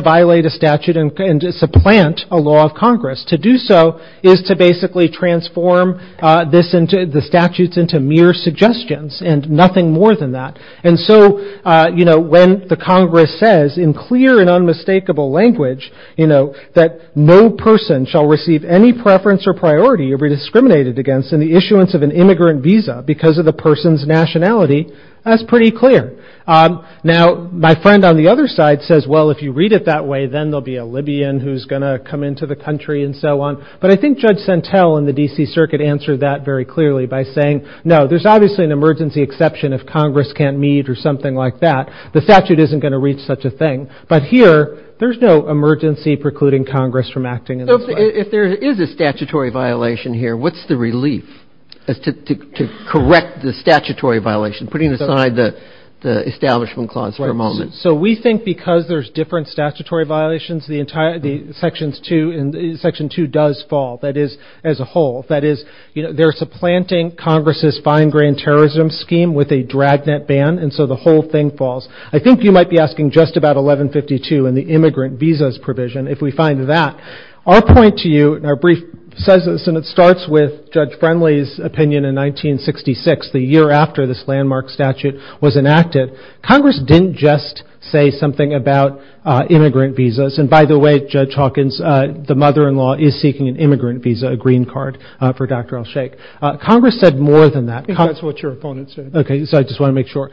violate a statute and supplant a law of Congress. To do so is to basically transform the statutes into mere suggestions and nothing more than that. And so, you know, when the Congress says, in clear and unmistakable language, you know, that no person shall receive any preference or priority or be discriminated against in the issuance of an immigrant visa because of the person's nationality, that's pretty clear. Now, my friend on the other side says, well, if you read it that way, then there'll be a Libyan who's going to come into the country and so on. But I think Judge Santel in the D.C. Circuit answered that very clearly by saying, no, there's obviously an emergency exception if Congress can't meet or something like that. The statute isn't going to reach such a thing. But here, there's no emergency precluding Congress from acting in this way. If there is a statutory violation here, what's the relief to correct the statutory violation, putting aside the Establishment Clause for a moment? Right. So we think because there's different statutory violations, Section 2 does fall, that is, as a whole. That is, they're supplanting Congress's fine-grained terrorism scheme with a dragnet ban, and so the whole thing falls. I think you might be asking just about 1152 in the immigrant visas provision if we find that. Our point to you in our brief says this, and it starts with Judge Friendly's opinion in 1966, the year after this landmark statute was enacted. Congress didn't just say something about immigrant visas. And by the way, Judge Hawkins, the mother-in-law, is seeking an immigrant visa, a green card for Dr. Elsheikh. Congress said more than that. I think that's what your opponent said. OK, so I just want to make sure.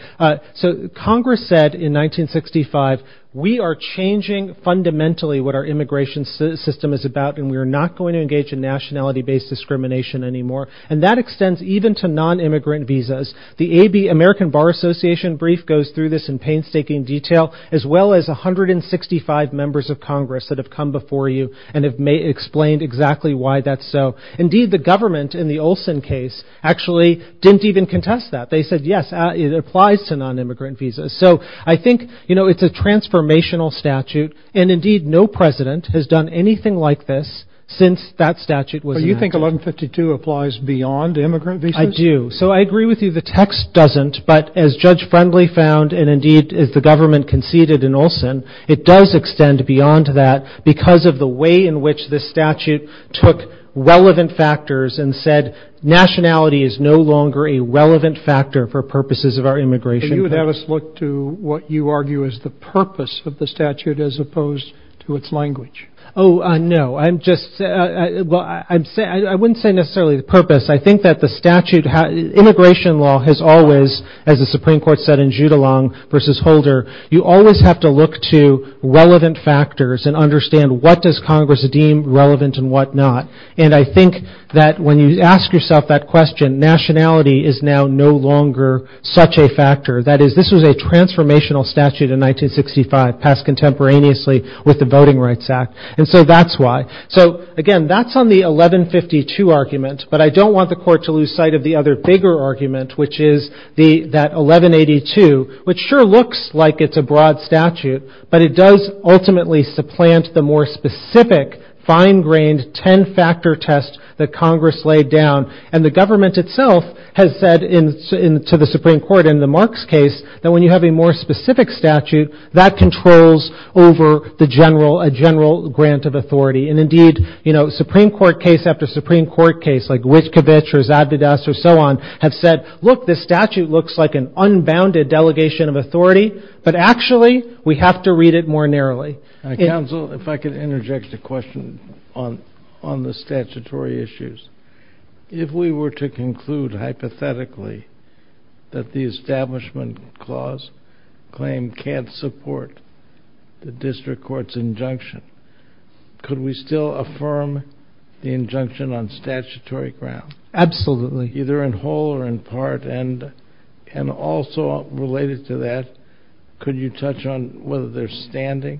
So Congress said in 1965, we are changing fundamentally what our immigration system is about, and we are not going to engage in nationality-based discrimination anymore. And that extends even to non-immigrant visas. The American Bar Association brief goes through this in painstaking detail, as well as 165 members of Congress that have come before you and have explained exactly why that's so. Indeed, the government in the Olson case actually didn't even contest that. They said, yes, it applies to non-immigrant visas. So I think, you know, it's a transformational statute. And indeed, no president has done anything like this since that statute was enacted. So you think 1152 applies beyond immigrant visas? I do. So I agree with you, the text doesn't. But as Judge Friendly found, and indeed as the government conceded in Olson, it does extend beyond that because of the way in which this statute took relevant factors and said, nationality is no longer a relevant factor for purposes of our immigration. And you would have us look to what you argue is the purpose of the statute as opposed to its language. Oh, no. I'm just... I wouldn't say necessarily the purpose. I think that the statute... Immigration law has always, as the Supreme Court said in Judulong v. Holder, you always have to look to relevant factors and understand what does Congress deem relevant and what not. And I think that when you ask yourself that question, nationality is now no longer such a factor. That is, this was a transformational statute in 1965, passed contemporaneously with the Voting Rights Act. And so that's why. So again, that's on the 1152 argument. But I don't want the court to lose sight of the other bigger argument, which is that 1182, which sure looks like it's a broad statute, but it does ultimately supplant the more specific, fine-grained, ten-factor test that Congress laid down. And the government itself has said to the Supreme Court in the Marks case that when you have a more specific statute, that controls over a general grant of authority. And indeed, Supreme Court case after Supreme Court case, like Witchkovich or Zadvydas or so on, have said, look, this statute looks like an unbounded delegation of authority, but actually we have to read it more narrowly. Counsel, if I could interject a question on the statutory issues. If we were to conclude hypothetically that the Establishment Clause claim can't support the district court's injunction, could we still affirm the injunction on statutory ground? Absolutely. Either in whole or in part, and also related to that, could you touch on whether there's standing,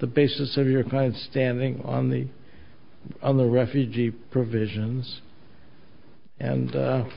the basis of your client's standing on the refugee provisions? And I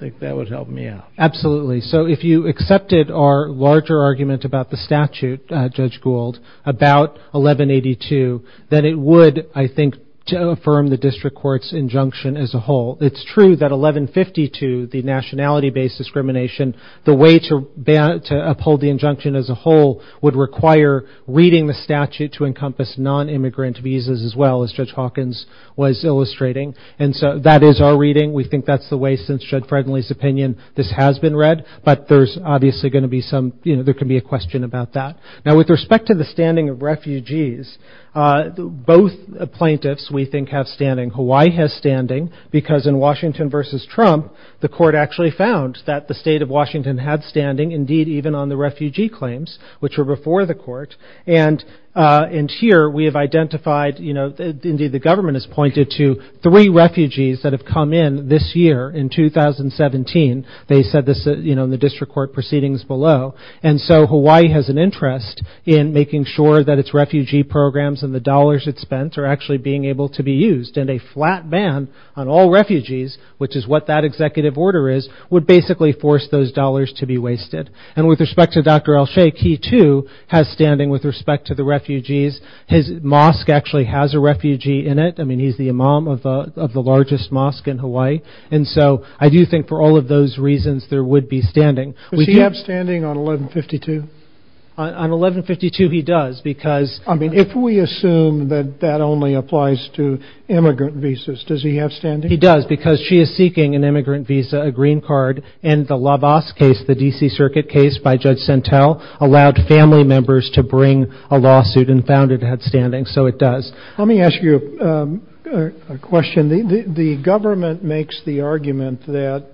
think that would help me out. Absolutely. So if you accepted our larger argument about the statute, Judge Gould, about 1182, then it would, I think, affirm the district court's injunction as a whole. It's true that 1152, the nationality-based discrimination, the way to uphold the injunction as a whole would require reading the statute to encompass non-immigrant visas as well, as Judge Hawkins was illustrating. And so that is our reading. We think that's the way, since Judge Frederley's opinion, this has been read. But there's obviously going to be some, there could be a question about that. both plaintiffs, we think, have standing. Hawaii has standing, because in Washington versus Trump, the court actually found that the state of Washington had standing, indeed, even on the refugee claims, which are before the court. And here, we have identified, indeed, the government has pointed to three refugees that have come in this year, in 2017. They said this in the district court proceedings below. And so Hawaii has an interest in making sure that its refugee programs and the dollars it spent are actually being able to be used and a flat ban on all refugees, which is what that executive order is, would basically force those dollars to be wasted. And with respect to Dr. Elsheikh, he, too, has standing with respect to the refugees. His mosque actually has a refugee in it. I mean, he's the imam of the largest mosque in Hawaii. And so I do think for all of those reasons, there would be standing. Does he have standing on 1152? On 1152, he does, because... I mean, if we assume that that only applies to immigrant visas, does he have standing? He does, because she is seeking an immigrant visa, a green card, in the LaVos case, the D.C. Circuit case by Judge Sentel, allowed family members to bring a lawsuit and found it had standing, so it does. Let me ask you a question. The government makes the argument that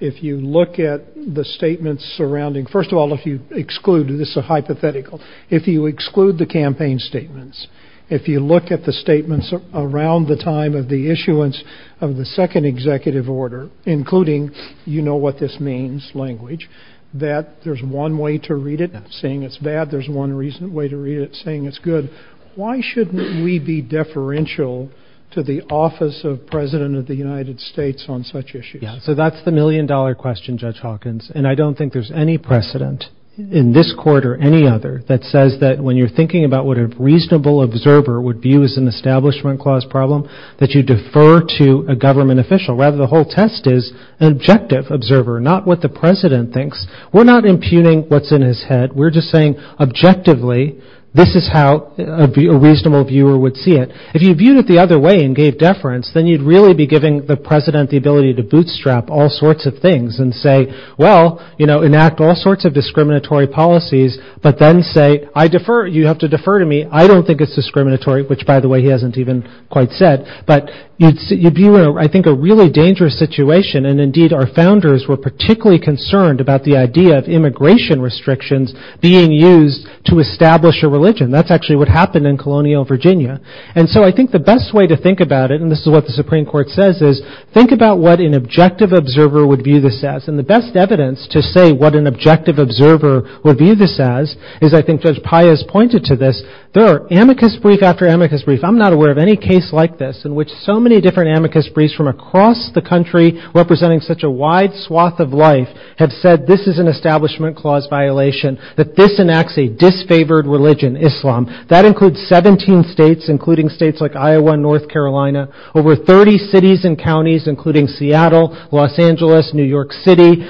if you look at the statements surrounding... First of all, if you exclude, and this is a hypothetical, if you exclude the campaign statements, if you look at the statements around the time of the issuance of the second executive order, including, you know what this means, language, that there's one way to read it, saying it's bad, there's one reason way to read it, saying it's good, why shouldn't we be deferential to the Office of President of the United States on such issues? So that's the million-dollar question, Judge Hawkins, and I don't think there's any precedent in this court or any other that says that when you're thinking about what a reasonable observer would view as an Establishment Clause problem, that you defer to a government official. Rather, the whole test is an objective observer, not what the President thinks. We're not impugning what's in his head. We're just saying, objectively, this is how a reasonable viewer would see it. If you viewed it the other way and gave deference, then you'd really be giving the President the ability to bootstrap all sorts of things and say, well, you know, enact all sorts of discriminatory policies, but then say, you have to defer to me. I don't think it's discriminatory, which, by the way, he hasn't even quite said. But you'd be in, I think, a really dangerous situation, and indeed, our founders were particularly concerned about the idea of immigration restrictions being used to establish a religion. That's actually what happened in colonial Virginia. And so I think the best way to think about it, and this is what the Supreme Court says, is think about what an objective observer would view this as, and the best evidence to say what an objective observer would view this as is, I think Judge Pius pointed to this, there are amicus brief after amicus brief. I'm not aware of any case like this in which so many different amicus briefs from across the country representing such a wide swath of life have said this is an establishment clause violation, that this enacts a disfavored religion, Islam. That includes 17 states, including states like Iowa and North Carolina, over 30 cities and counties, including Seattle, Los Angeles, New York City,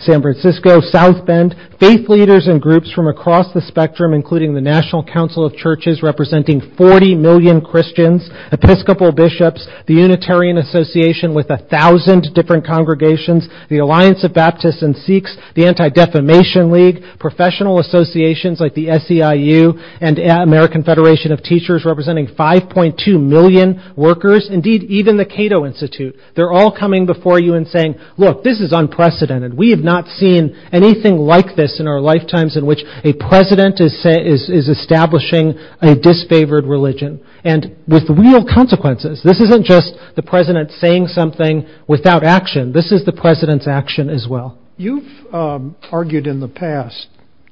San Francisco, South Bend, faith leaders and groups from across the spectrum, including the National Council of Churches representing 40 million Christians, Episcopal bishops, the Unitarian Association with 1,000 different congregations, the Alliance of Baptists and Sikhs, the Anti-Defamation League, professional associations like the SEIU and American Federation of Teachers representing 5.2 million workers, indeed, even the Cato Institute. They're all coming before you and saying, look, this is unprecedented. We have not seen anything like this in our lifetimes in which a president is establishing a disfavored religion. And with real consequences, this isn't just the president saying something without action. This is the president's action as well. You've argued in the past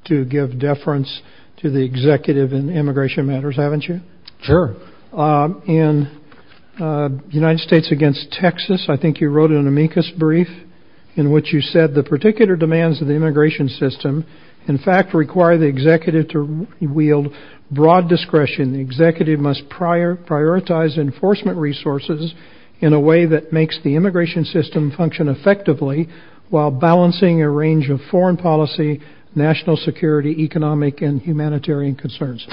to give deference to the executive in immigration matters, haven't you? Sure. In United States against Texas, I think you wrote an amicus brief in which you said the particular demands of the immigration system in fact require the executive to wield broad discretion. The executive must prioritize enforcement resources in a way that makes the immigration system function effectively while balancing a range of foreign policy, national security, economic, and humanitarian concerns.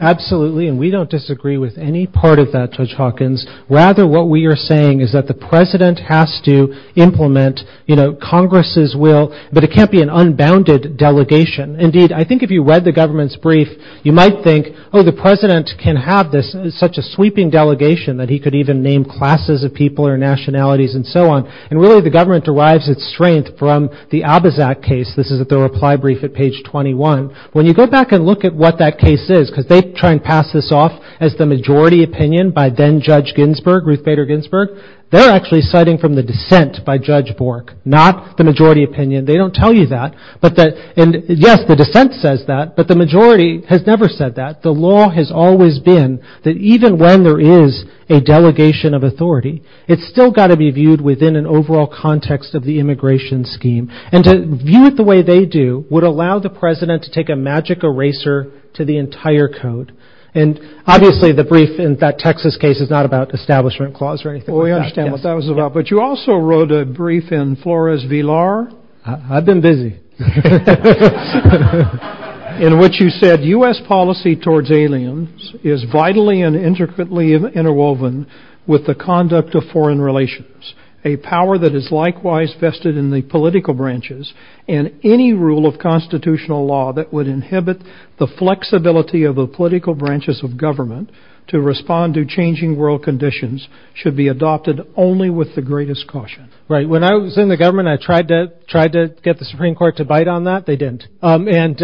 Absolutely, and we don't disagree with any part of that, Judge Hawkins. Rather, what we are saying is that the president has to implement Congress's will, but it can't be an unbounded delegation. Indeed, I think if you read the government's brief, you might think, oh, the president can have this in such a sweeping delegation that he could even name classes of people or nationalities and so on. And really, the government derives its strength from the Abizak case. This is the reply brief at page 21. When you go back and look at what that case is, because they try and pass this off as the majority opinion by then-Judge Ginsburg, Ruth Bader Ginsburg, they're actually citing from the dissent by Judge Bork, not the majority opinion. They don't tell you that. And yes, the dissent says that, but the majority has never said that. The law has always been that even when there is a delegation of authority, it's still got to be viewed within an overall context of the immigration scheme. And to view it the way they do would allow the president to take a magic eraser to the entire code. Obviously, the brief in that Texas case is not about the Establishment Clause or anything like that. We understand what that was about, but you also wrote a brief in Flores v. Lahr. I've been busy. In which you said, U.S. policy towards aliens is vitally and intricately interwoven with the conduct of foreign relations, a power that is likewise vested in the political branches and any rule of constitutional law that would inhibit the flexibility of the political branches of government to respond to changing world conditions should be adopted only with the greatest caution. Right. When I was in the government, I tried to get the Supreme Court to bite on that. They didn't. And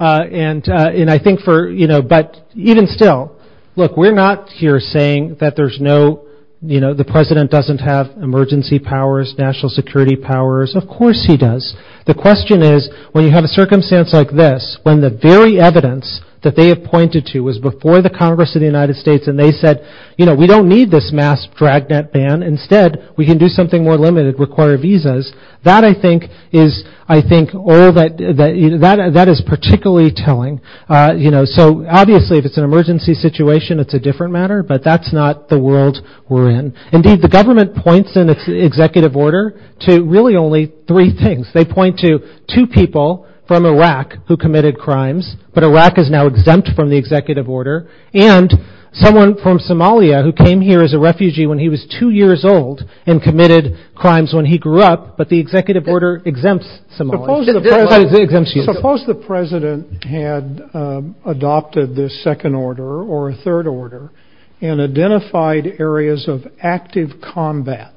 I think for, you know, but even still, look, we're not here saying that there's no, you know, the president doesn't have emergency powers, national security powers. Of course he does. The question is, when you have a circumstance like this, when the very evidence that they have pointed to was before the Congress of the United States and they said, you know, we don't need this mass dragnet ban. Instead, we can do something more limited, require visas. That I think is, I think, or that, that is particularly telling, you know, so obviously if it's an emergency situation, it's a different matter, but that's not the world we're in. Indeed, the government points in its executive order to really only three things. They point to two people from Iraq who committed crimes, but Iraq is now exempt from the executive order, and someone from Somalia who came here as a refugee when he was two years old and committed crimes when he grew up, but the executive order exempts Somalia. Suppose the president had adopted this second order or a third order and identified areas of active combat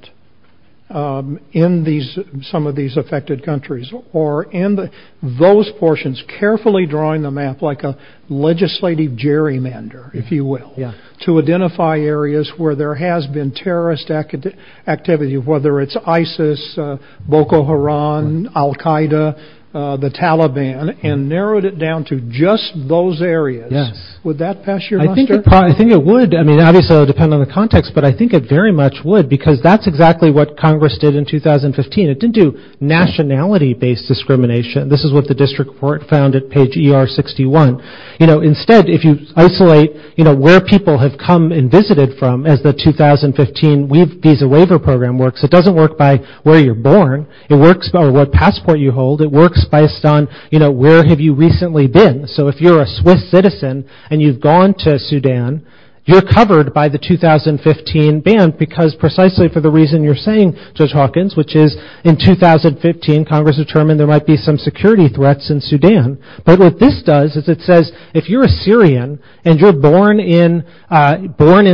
in these, some of these affected countries or in those portions, carefully drawing the map like a legislative gerrymander, if you will, to identify areas where there has been terrorist activity, whether it's ISIS, Boko Haram, Al-Qaeda, the Taliban, and narrowed it down to just those areas. Would that pass your mind? I think it would. I mean, obviously, it would depend on the context, but I think it very much would because that's exactly what Congress did in 2015. It didn't do nationality-based discrimination. This is what the district court found at page ER61. Instead, if you isolate where people have come and visited from as the 2015 Visa Waiver Program works, it doesn't work by where you're born. It works by what passport you hold. It works based on where have you recently been. So if you're a Swiss citizen and you've gone to Sudan, you're covered by the 2015 ban because precisely for the reason you're saying, Judge Hawkins, which is in 2015, Congress determined there might be some security threats in Sudan, but what this does is it says, if you're a Syrian and you're born in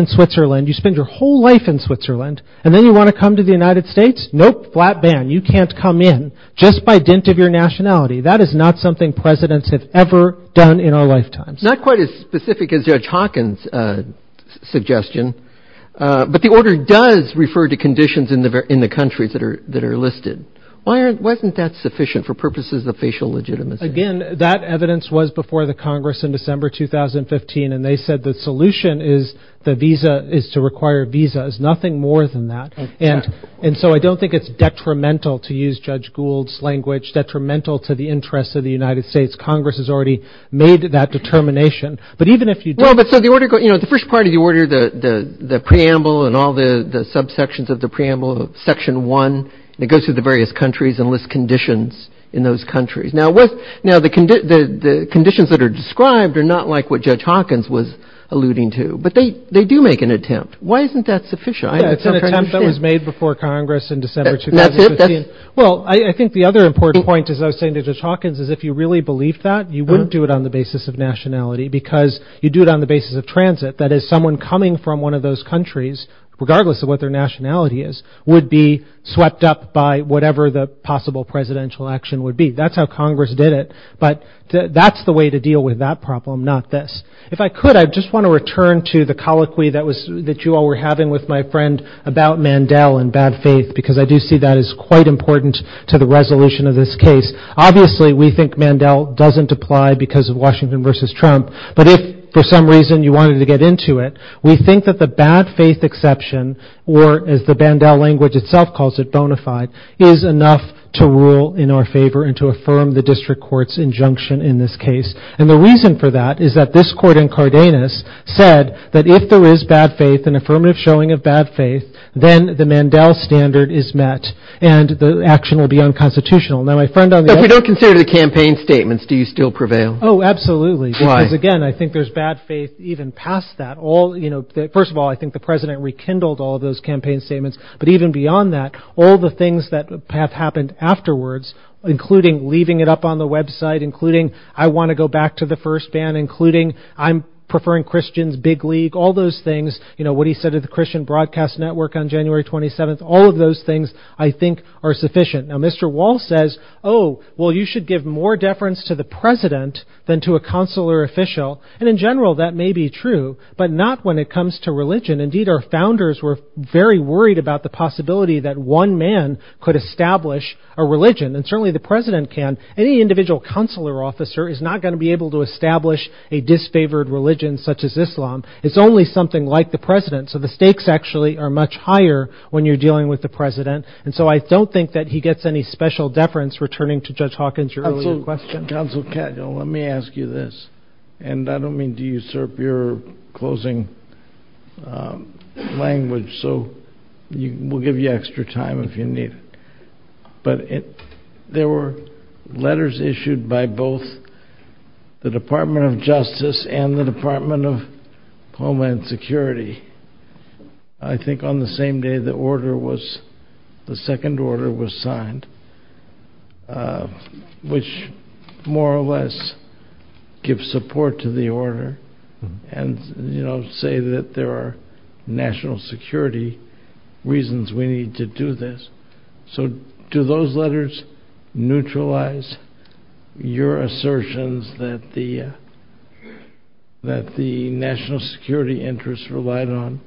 Switzerland, you spend your whole life in Switzerland and then you want to come to the United States, no flat ban. You can't come in just by dint of your nationality. That is not something presidents have ever done in our lifetimes. Not quite as specific as Judge Hawkins' suggestion, but the order does refer to conditions in the countries that are listed. Wasn't that sufficient for purposes of facial legitimacy? Again, that evidence was before the Congress in December 2015, and they said the solution is to require a visa. There's nothing more than that, and so I don't think it's detrimental to use Judge Gould's language, detrimental to the interests of the United States. Congress has already made that determination, but even if you do... No, but the first part of the order, the preamble and all the subsections of the preamble, section one, it goes through the various countries and lists conditions in those countries. Now, the conditions that are described are not like what Judge Hawkins was alluding to, but they do make an attempt. Why isn't that sufficient? That was made before Congress in December 2015. Well, I think the other important point as I was saying to Judge Hawkins is if you really believe that, you wouldn't do it on the basis of nationality because you do it on the basis of transit. That is, someone coming from one of those countries, regardless of what their nationality is, would be swept up by whatever the possible presidential action would be. That's how Congress did it, but that's the way to deal with that problem, not this. If I could, I just want to return to the colloquy that you all were having with my friend about Mandel and bad faith because I do see that as quite important to the resolution of this case. Obviously, we think Mandel doesn't apply because of Washington versus Trump, but if for some reason you wanted to get into it, we think that the bad faith exception or as the Mandel language itself calls it, bona fide, is enough to rule in our favor and to affirm the district court's injunction in this case. The reason for that is that this court in Cardenas said that if there is bad faith and affirmative showing of bad faith, then the Mandel standard is met and the action will be unconstitutional. Then I found out that- If you don't consider the campaign statements, do you still prevail? Oh, absolutely because again, I think there's bad faith even past that. First of all, I think the president rekindled all those campaign statements, but even beyond that, all the things that have happened afterwards, including leaving it up on the website, including I want to go back to the first ban, including I'm preferring Christians, big league, all those things, you know, what he said to the Christian Broadcast Network on January 27th, all of those things I think are sufficient. Now, Mr. Wall says, oh, well, you should give more deference to the president than to a consular official and in general, that may be true, but not when it comes to religion and indeed, our founders were very worried about the possibility that one man could establish a religion and certainly, the president can. Any individual consular officer is not going to be able to establish a disfavored religion such as Islam. It's only something like the president, so the stakes actually are much higher when you're dealing with the president and so I don't think that he gets any special deference returning to Judge Hawkins earlier question. Counsel, let me ask you this and I don't mean to usurp your closing language so we'll give you extra time if you need. But, there were letters issued by both the Department of Justice and the Department of Homeland Security. I think on the same day the order was, the second order was signed, more or less, gives support to the order and, you know, say that there are national security reasons we need to do this. So, do those letters neutralize your assertions that the, that the national security interests relied on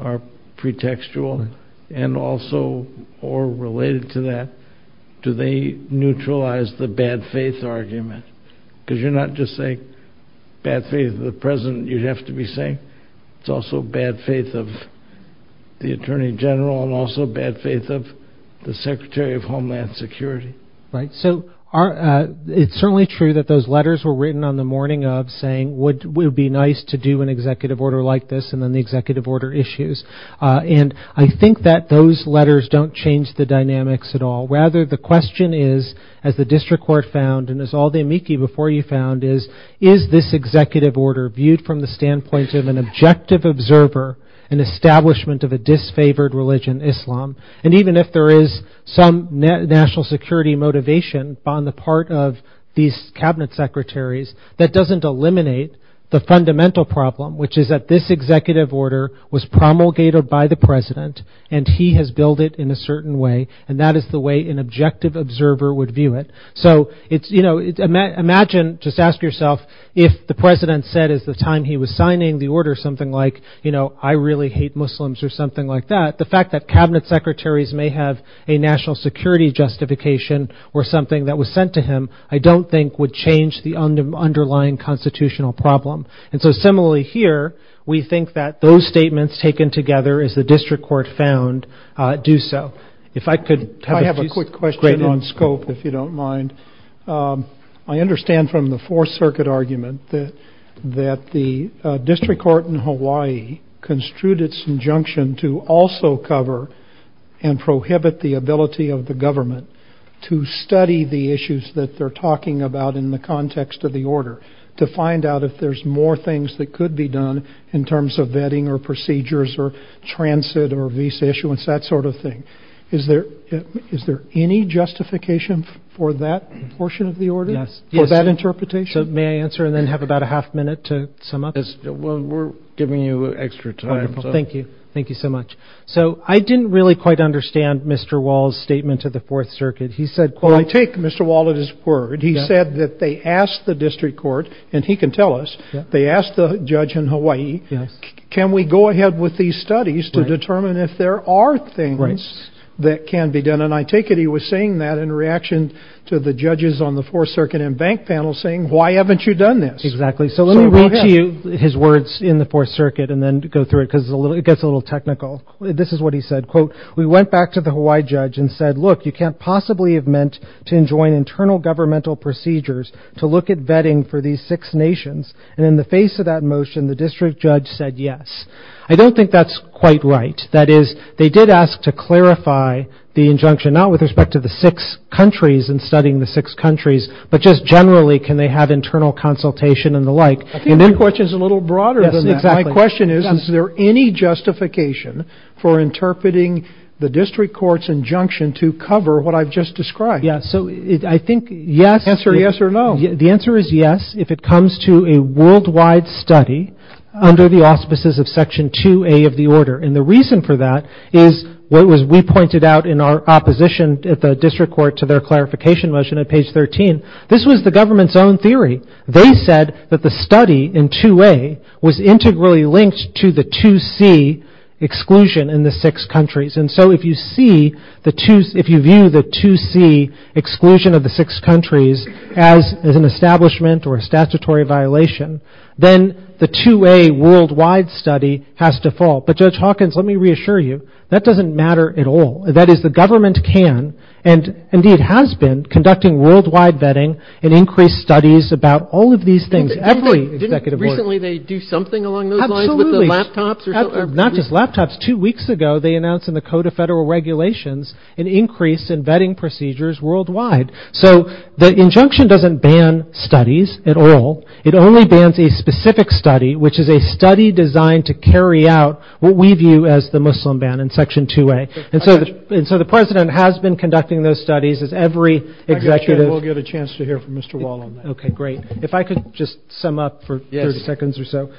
are pretextual and also, or related to that, do they neutralize the bad faith argument? Because you're not just saying bad faith of the President, you'd have to be saying it's also bad faith of the Attorney General and also bad faith of the Secretary of Homeland Security. Right. So, it's certainly true that those letters were written on the morning of saying, it would be nice to do an executive order like this and then the executive order issues. And, I think that those letters don't change the dynamics at all. Rather, the question is, as the District Court found, and it's all the amici before you found, is, is this executive order viewed from the standpoint of an objective observer, an establishment of a disfavored religion, Islam, and even if there is some national security motivation on the part of these Cabinet Secretaries, that doesn't eliminate the fundamental problem, which is that this executive order was promulgated by the President and he has built it in a certain way and that is the way an objective observer would view it. So, you know, imagine, just ask yourself, if the President said at the time he was signing the order something like, you know, I really hate Muslims or something like that, the fact that Cabinet Secretaries may have a national security justification or something that was sent to him, I don't think would change the underlying constitutional problem. And so, similarly here, we think that those statements taken together as the District Court found, do so. If I could, I have a quick question on scope, if you don't mind. I understand from the Fourth Circuit argument that the District Court in Hawaii construed its injunction to also cover and prohibit the ability of the government to study the issues that they're talking about in the context of the order, to find out if there's more things that could be done in terms of vetting or procedures or transit or visa issuance, that sort of thing. Is there, is there any justification for that portion of the order? For that interpretation? May I answer and then have about a half minute to sum up? We're giving you extra time. Thank you. Thank you so much. So, I didn't really quite understand Mr. Wall's statement to the Fourth Circuit. He said, I take Mr. Wall at his word. He said that they asked the District Court, and he can tell us, they asked the judge in Hawaii, can we go ahead with these studies to determine if there are things that can be done? And I take it he was saying that in reaction to the judges on the Fourth Circuit and bank panels saying, why haven't you done this? Exactly. So, let me read to you his words in the Fourth Circuit and then go through it because it gets a little technical. This is what he said, quote, we went back to the Hawaii judge and said, look, you can't possibly have meant to enjoin internal governmental procedures for these six nations. And in the face of that motion, the district judge said yes. I don't think that's quite right. That is, they did ask to clarify the injunction not with respect to the six countries and studying the six countries, but just generally can they have internal consultation and the like. And then, which is a little broader than that, my question is, is there any justification for interpreting the district court's injunction to cover what I've just described? Yeah, so, I think, yes or no. The answer is yes if it comes to a worldwide study under the auspices of section 2A of the order. And the reason for that is what was pointed out in our opposition at the district court to their clarification motion at page 13. This was the government's own theory. They said that the study in 2A was integrally linked to the 2C exclusion in the six countries. And so, if you see the two, if you view the 2C exclusion of the six countries as an establishment or a statutory violation, then, the 2A worldwide study has to fall. But Judge Hawkins, let me reassure you, that doesn't matter at all. That is, the government can and, indeed, has been conducting worldwide vetting and increased studies about all of these things every executive order. Recently, they do something along those lines with the laptops? Absolutely. Not just laptops. Two weeks ago, they announced in the Code of Federal Regulations an increase in vetting procedures worldwide. So, the injunction doesn't ban studies at all. It only bans a specific study which is a study designed to carry out what we view as the Muslim ban in Section 2A. And so, the President has been conducting those studies as every executive... Actually, we'll give a chance to hear from Mr. Wall on that. Okay, great. If I could just sum up for 30 seconds or so.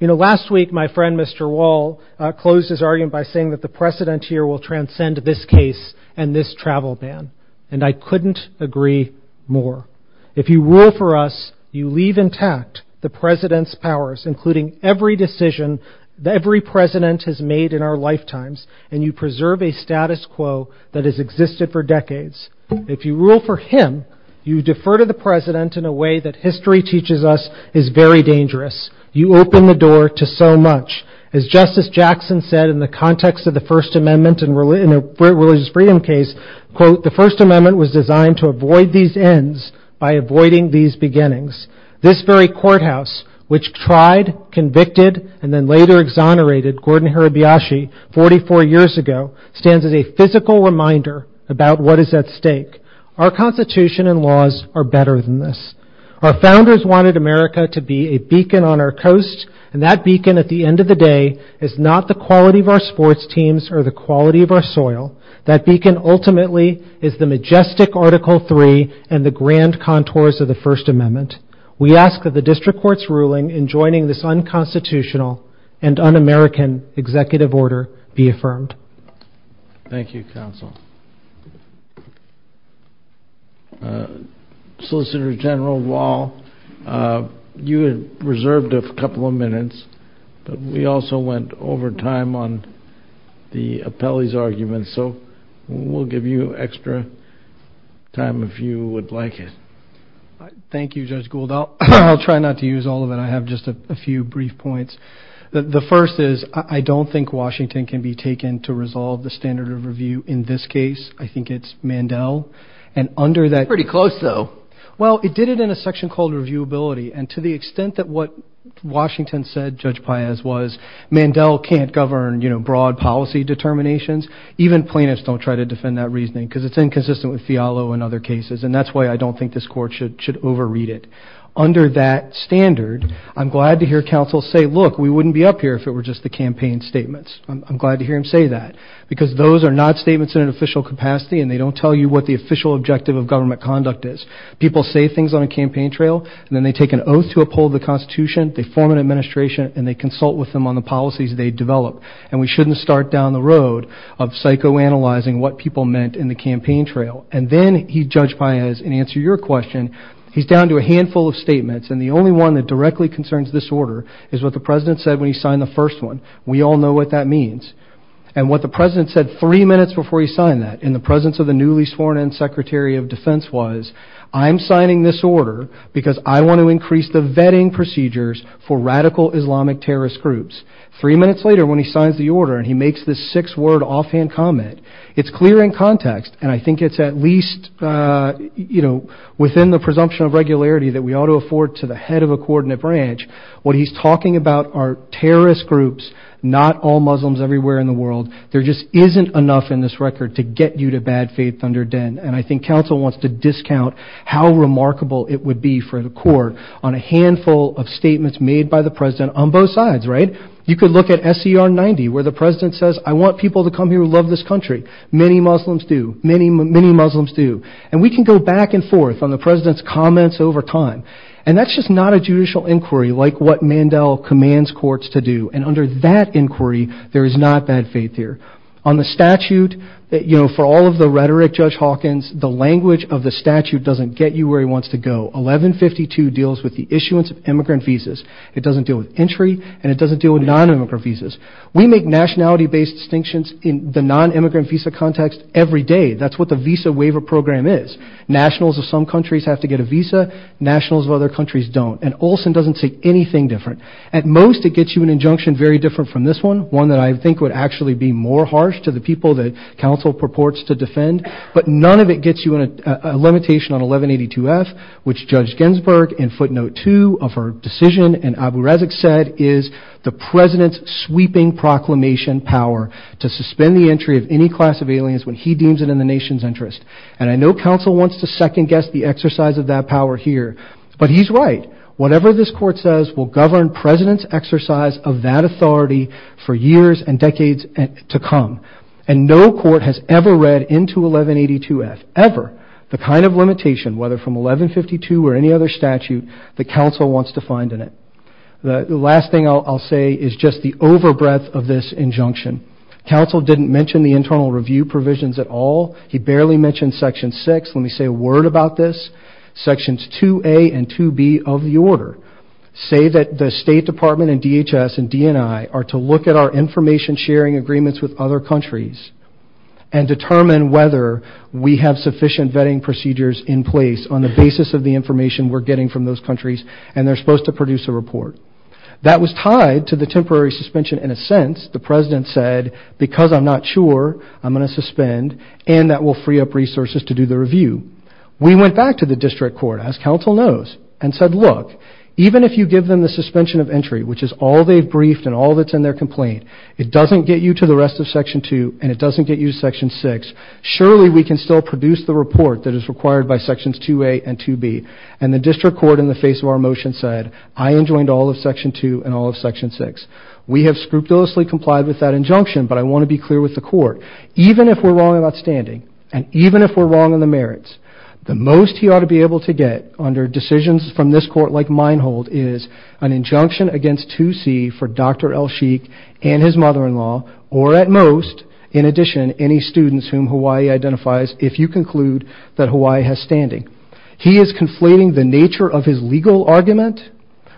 You know, last week, my friend, Mr. Wall, closed his argument by saying that the precedent here will transcend this case and this travel ban. And I couldn't agree more. If you were for us, you leave intact the President's powers including every decision every President has made in our lifetimes and you preserve a status quo that has existed for decades. If you rule for him, you defer to the President in a way that history teaches us is very dangerous. You open the door to so much. As Justice Jackson said in the context of the First Amendment and religious freedom case, quote, the First Amendment was designed to avoid these ends by avoiding these beginnings. This very courthouse which tried, convicted, and then later exonerated Gordon Hirabayashi 44 years ago stands as a physical reminder about what is at stake. Our Constitution and laws are better than this. Our Founders wanted America to be a beacon on our coast and that beacon at the end of the day is not the quality of our sports teams or the quality of our soil. That beacon ultimately is the majestic Article 3 and the grand contours of the First Amendment. We ask that the District Court's ruling in joining this unconstitutional and un-American executive order be affirmed. Thank you, Counsel. Solicitor General Wall, you had reserved a couple of minutes but we also went over time on the appellee's argument so we'll give you extra time if you would like it. Thank you, Judge Gould. I'll try not to use all of it. I have just a few brief points. The first is I don't think Washington can be taken to resolve the standard of review in this case. I think it's Mandel and under that... Pretty close, though. Well, it did it in a section called reviewability and to the extent that what Washington said, Judge Paez, was Mandel can't govern broad policy determinations, even plaintiffs don't try to defend that reasoning because it's inconsistent with Fialo and other cases and that's why I don't think this Court should overread it. Under that standard, I'm glad to hear counsel say, look, we wouldn't be up here if it were just the campaign statements. I'm glad to hear him say that because those are not statements in an official capacity and they don't tell you what the official objective of government conduct is. People say things on a campaign trail and then they take an oath to uphold the Constitution, they form an administration and they consult with them on the policies they develop and we shouldn't start down the road of psychoanalyzing what people meant in the campaign trail and then I think he's down to a handful of statements and the only one that directly concerns this order is what the President said when he signed the first one. We all know what that means and what the President said three minutes before he signed that in the presence of the newly sworn in Secretary of Defense was, I'm signing this order because I want to increase the vetting procedures for radical Islamic terrorist groups. Three minutes later when he signs the order and he makes this six word offhand comment, it's clear in context and I think it's at least you know, within the presumption of regularity that we ought to afford to the head of a coordinate branch, what he's talking about are terrorist groups, not all Muslims everywhere in the world. There just isn't enough in this record to get you to bad faith under den and I think council wants to discount how remarkable it would be for the court on a handful of statements made by the President on both sides, right? You could look at SCR 90 where the President says, I want people to come here who love this country. Many Muslims do. And we can go back and forth on the President's comments over time and that's just not a judicial inquiry like what Mandel commands courts to do and under that inquiry there is not bad faith here. On the statute, you know, for all of the rhetoric Judge Hawkins, the language of the statute doesn't get you where he wants to go. 1152 deals with the issuance of immigrant visas. and it doesn't deal with non-immigrant visas. We make nationality based distinctions in the non-immigrant visa context every day that we have every day. That's what the visa waiver program is. Nationals of some countries have to get a visa nationals of other countries don't. And Olson doesn't say anything different. At most it gets you an injunction very different from this one. One that I think would actually be more harsh to the people that counsel purports to defend. But none of it gets you a limitation on 1182F which Judge Ginsburg in footnote 2 of her decision in Abu Razak said is the President's sweeping proclamation power to suspend the entry of any class of aliens when he deems it in the nation's interest. And I know counsel wants to second guess the exercise of that power here. But he's right. Whatever this court says will govern President's exercise of that authority for years and decades to come. And no court has ever read into 1182F ever the kind of limitation whether from 1152 or any other statute that counsel wants to find in it. The last thing I'll say is just the over breadth of this injunction. Counsel didn't mention the internal review provisions at all. He barely mentioned section 6. Let me say a word about this. Sections 2A and 2B of the order say that the State Department and DHS and DNI are to look at our information sharing agreements with other countries and determine whether we have sufficient vetting procedures in place on the basis of the information we're getting from those countries and they're supposed to produce a report. That was tied to the temporary suspension in a sense. The President said because I'm not sure I'm going to suspend and that will free up resources to do the review. We went back to the District Court as counsel knows and said look even if you give them the suspension of entry which is all they've briefed and all that's in their complaint it doesn't get you to the rest of section 2 and it doesn't get you to section 6 surely we can still produce the report that is required by sections 2A and 2B and the District Court in the face of our motion said I enjoined all of section 2 and all of section 6. We have scrupulously complied with that injunction but I want to be clear with the court even if we're wrong about standing and even if we're wrong in the merits the most he ought to be able to get under decisions from this court like Meinhold is an injunction against 2C for Dr. El-Sheikh and his mother-in-law or at most in addition any students whom Hawaii identifies if you conclude that Hawaii has standing. He is conflating the nature of his legal argument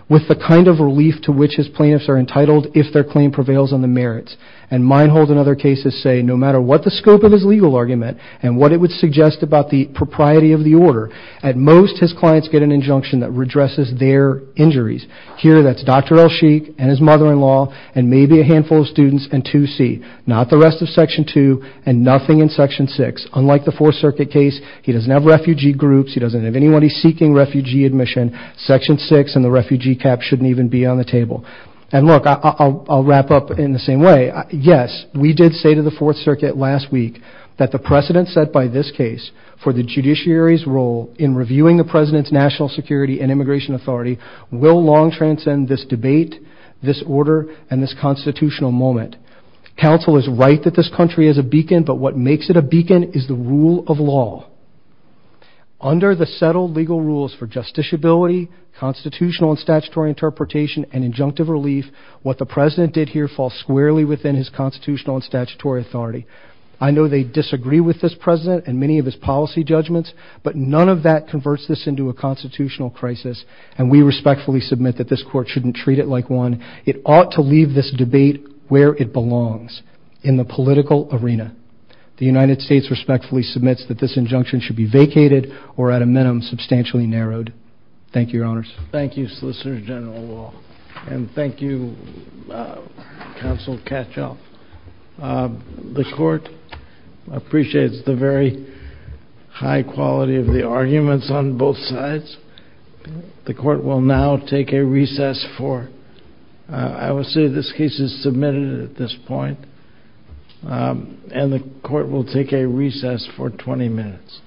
with the kind of relief to which his plaintiffs are entitled if their claim prevails in the merits and Meinhold in other cases say no matter what the scope of his legal argument and what it would suggest about the propriety of the order at most his clients get an injunction that addresses their injuries. Here that's Dr. El-Sheikh and his mother-in-law and maybe a handful of students and 2C. Not the rest of section 2 and nothing in section 6. Unlike the Fourth Circuit case he doesn't have refugee groups he doesn't have anybody seeking refugee admission. Section 6 and the refugee cap shouldn't even be on the table. And look I'll wrap up in the same way yes we did say to the Fourth Circuit last week that the precedent set by this case for the judiciary's role in reviewing the President's national security and immigration authority will long transcend this debate this order and this constitutional moment. Counsel is right that this country is a beacon but what makes it a beacon is the rule of law. Under the settled legal rules for justiciability constitutional and statutory interpretation and injunctive relief what the President did here falls squarely within his constitutional and statutory authority. I know they disagree with this President and many of his policy judgments but none of that converts this into a constitutional crisis and we respectfully submit that this court shouldn't treat it like one. It ought to leave this debate where it belongs in the political arena. The United States respectfully submits that this injunction should be vacated or at a minimum substantially narrowed. Thank you Your Honors. Thank you Solicitor General Law and thank you Counsel Katyal. The court appreciates the very high quality of the arguments on both sides. The court will now take a recess for I will say this case is submitted at this point and the court will take a recess for 20 minutes.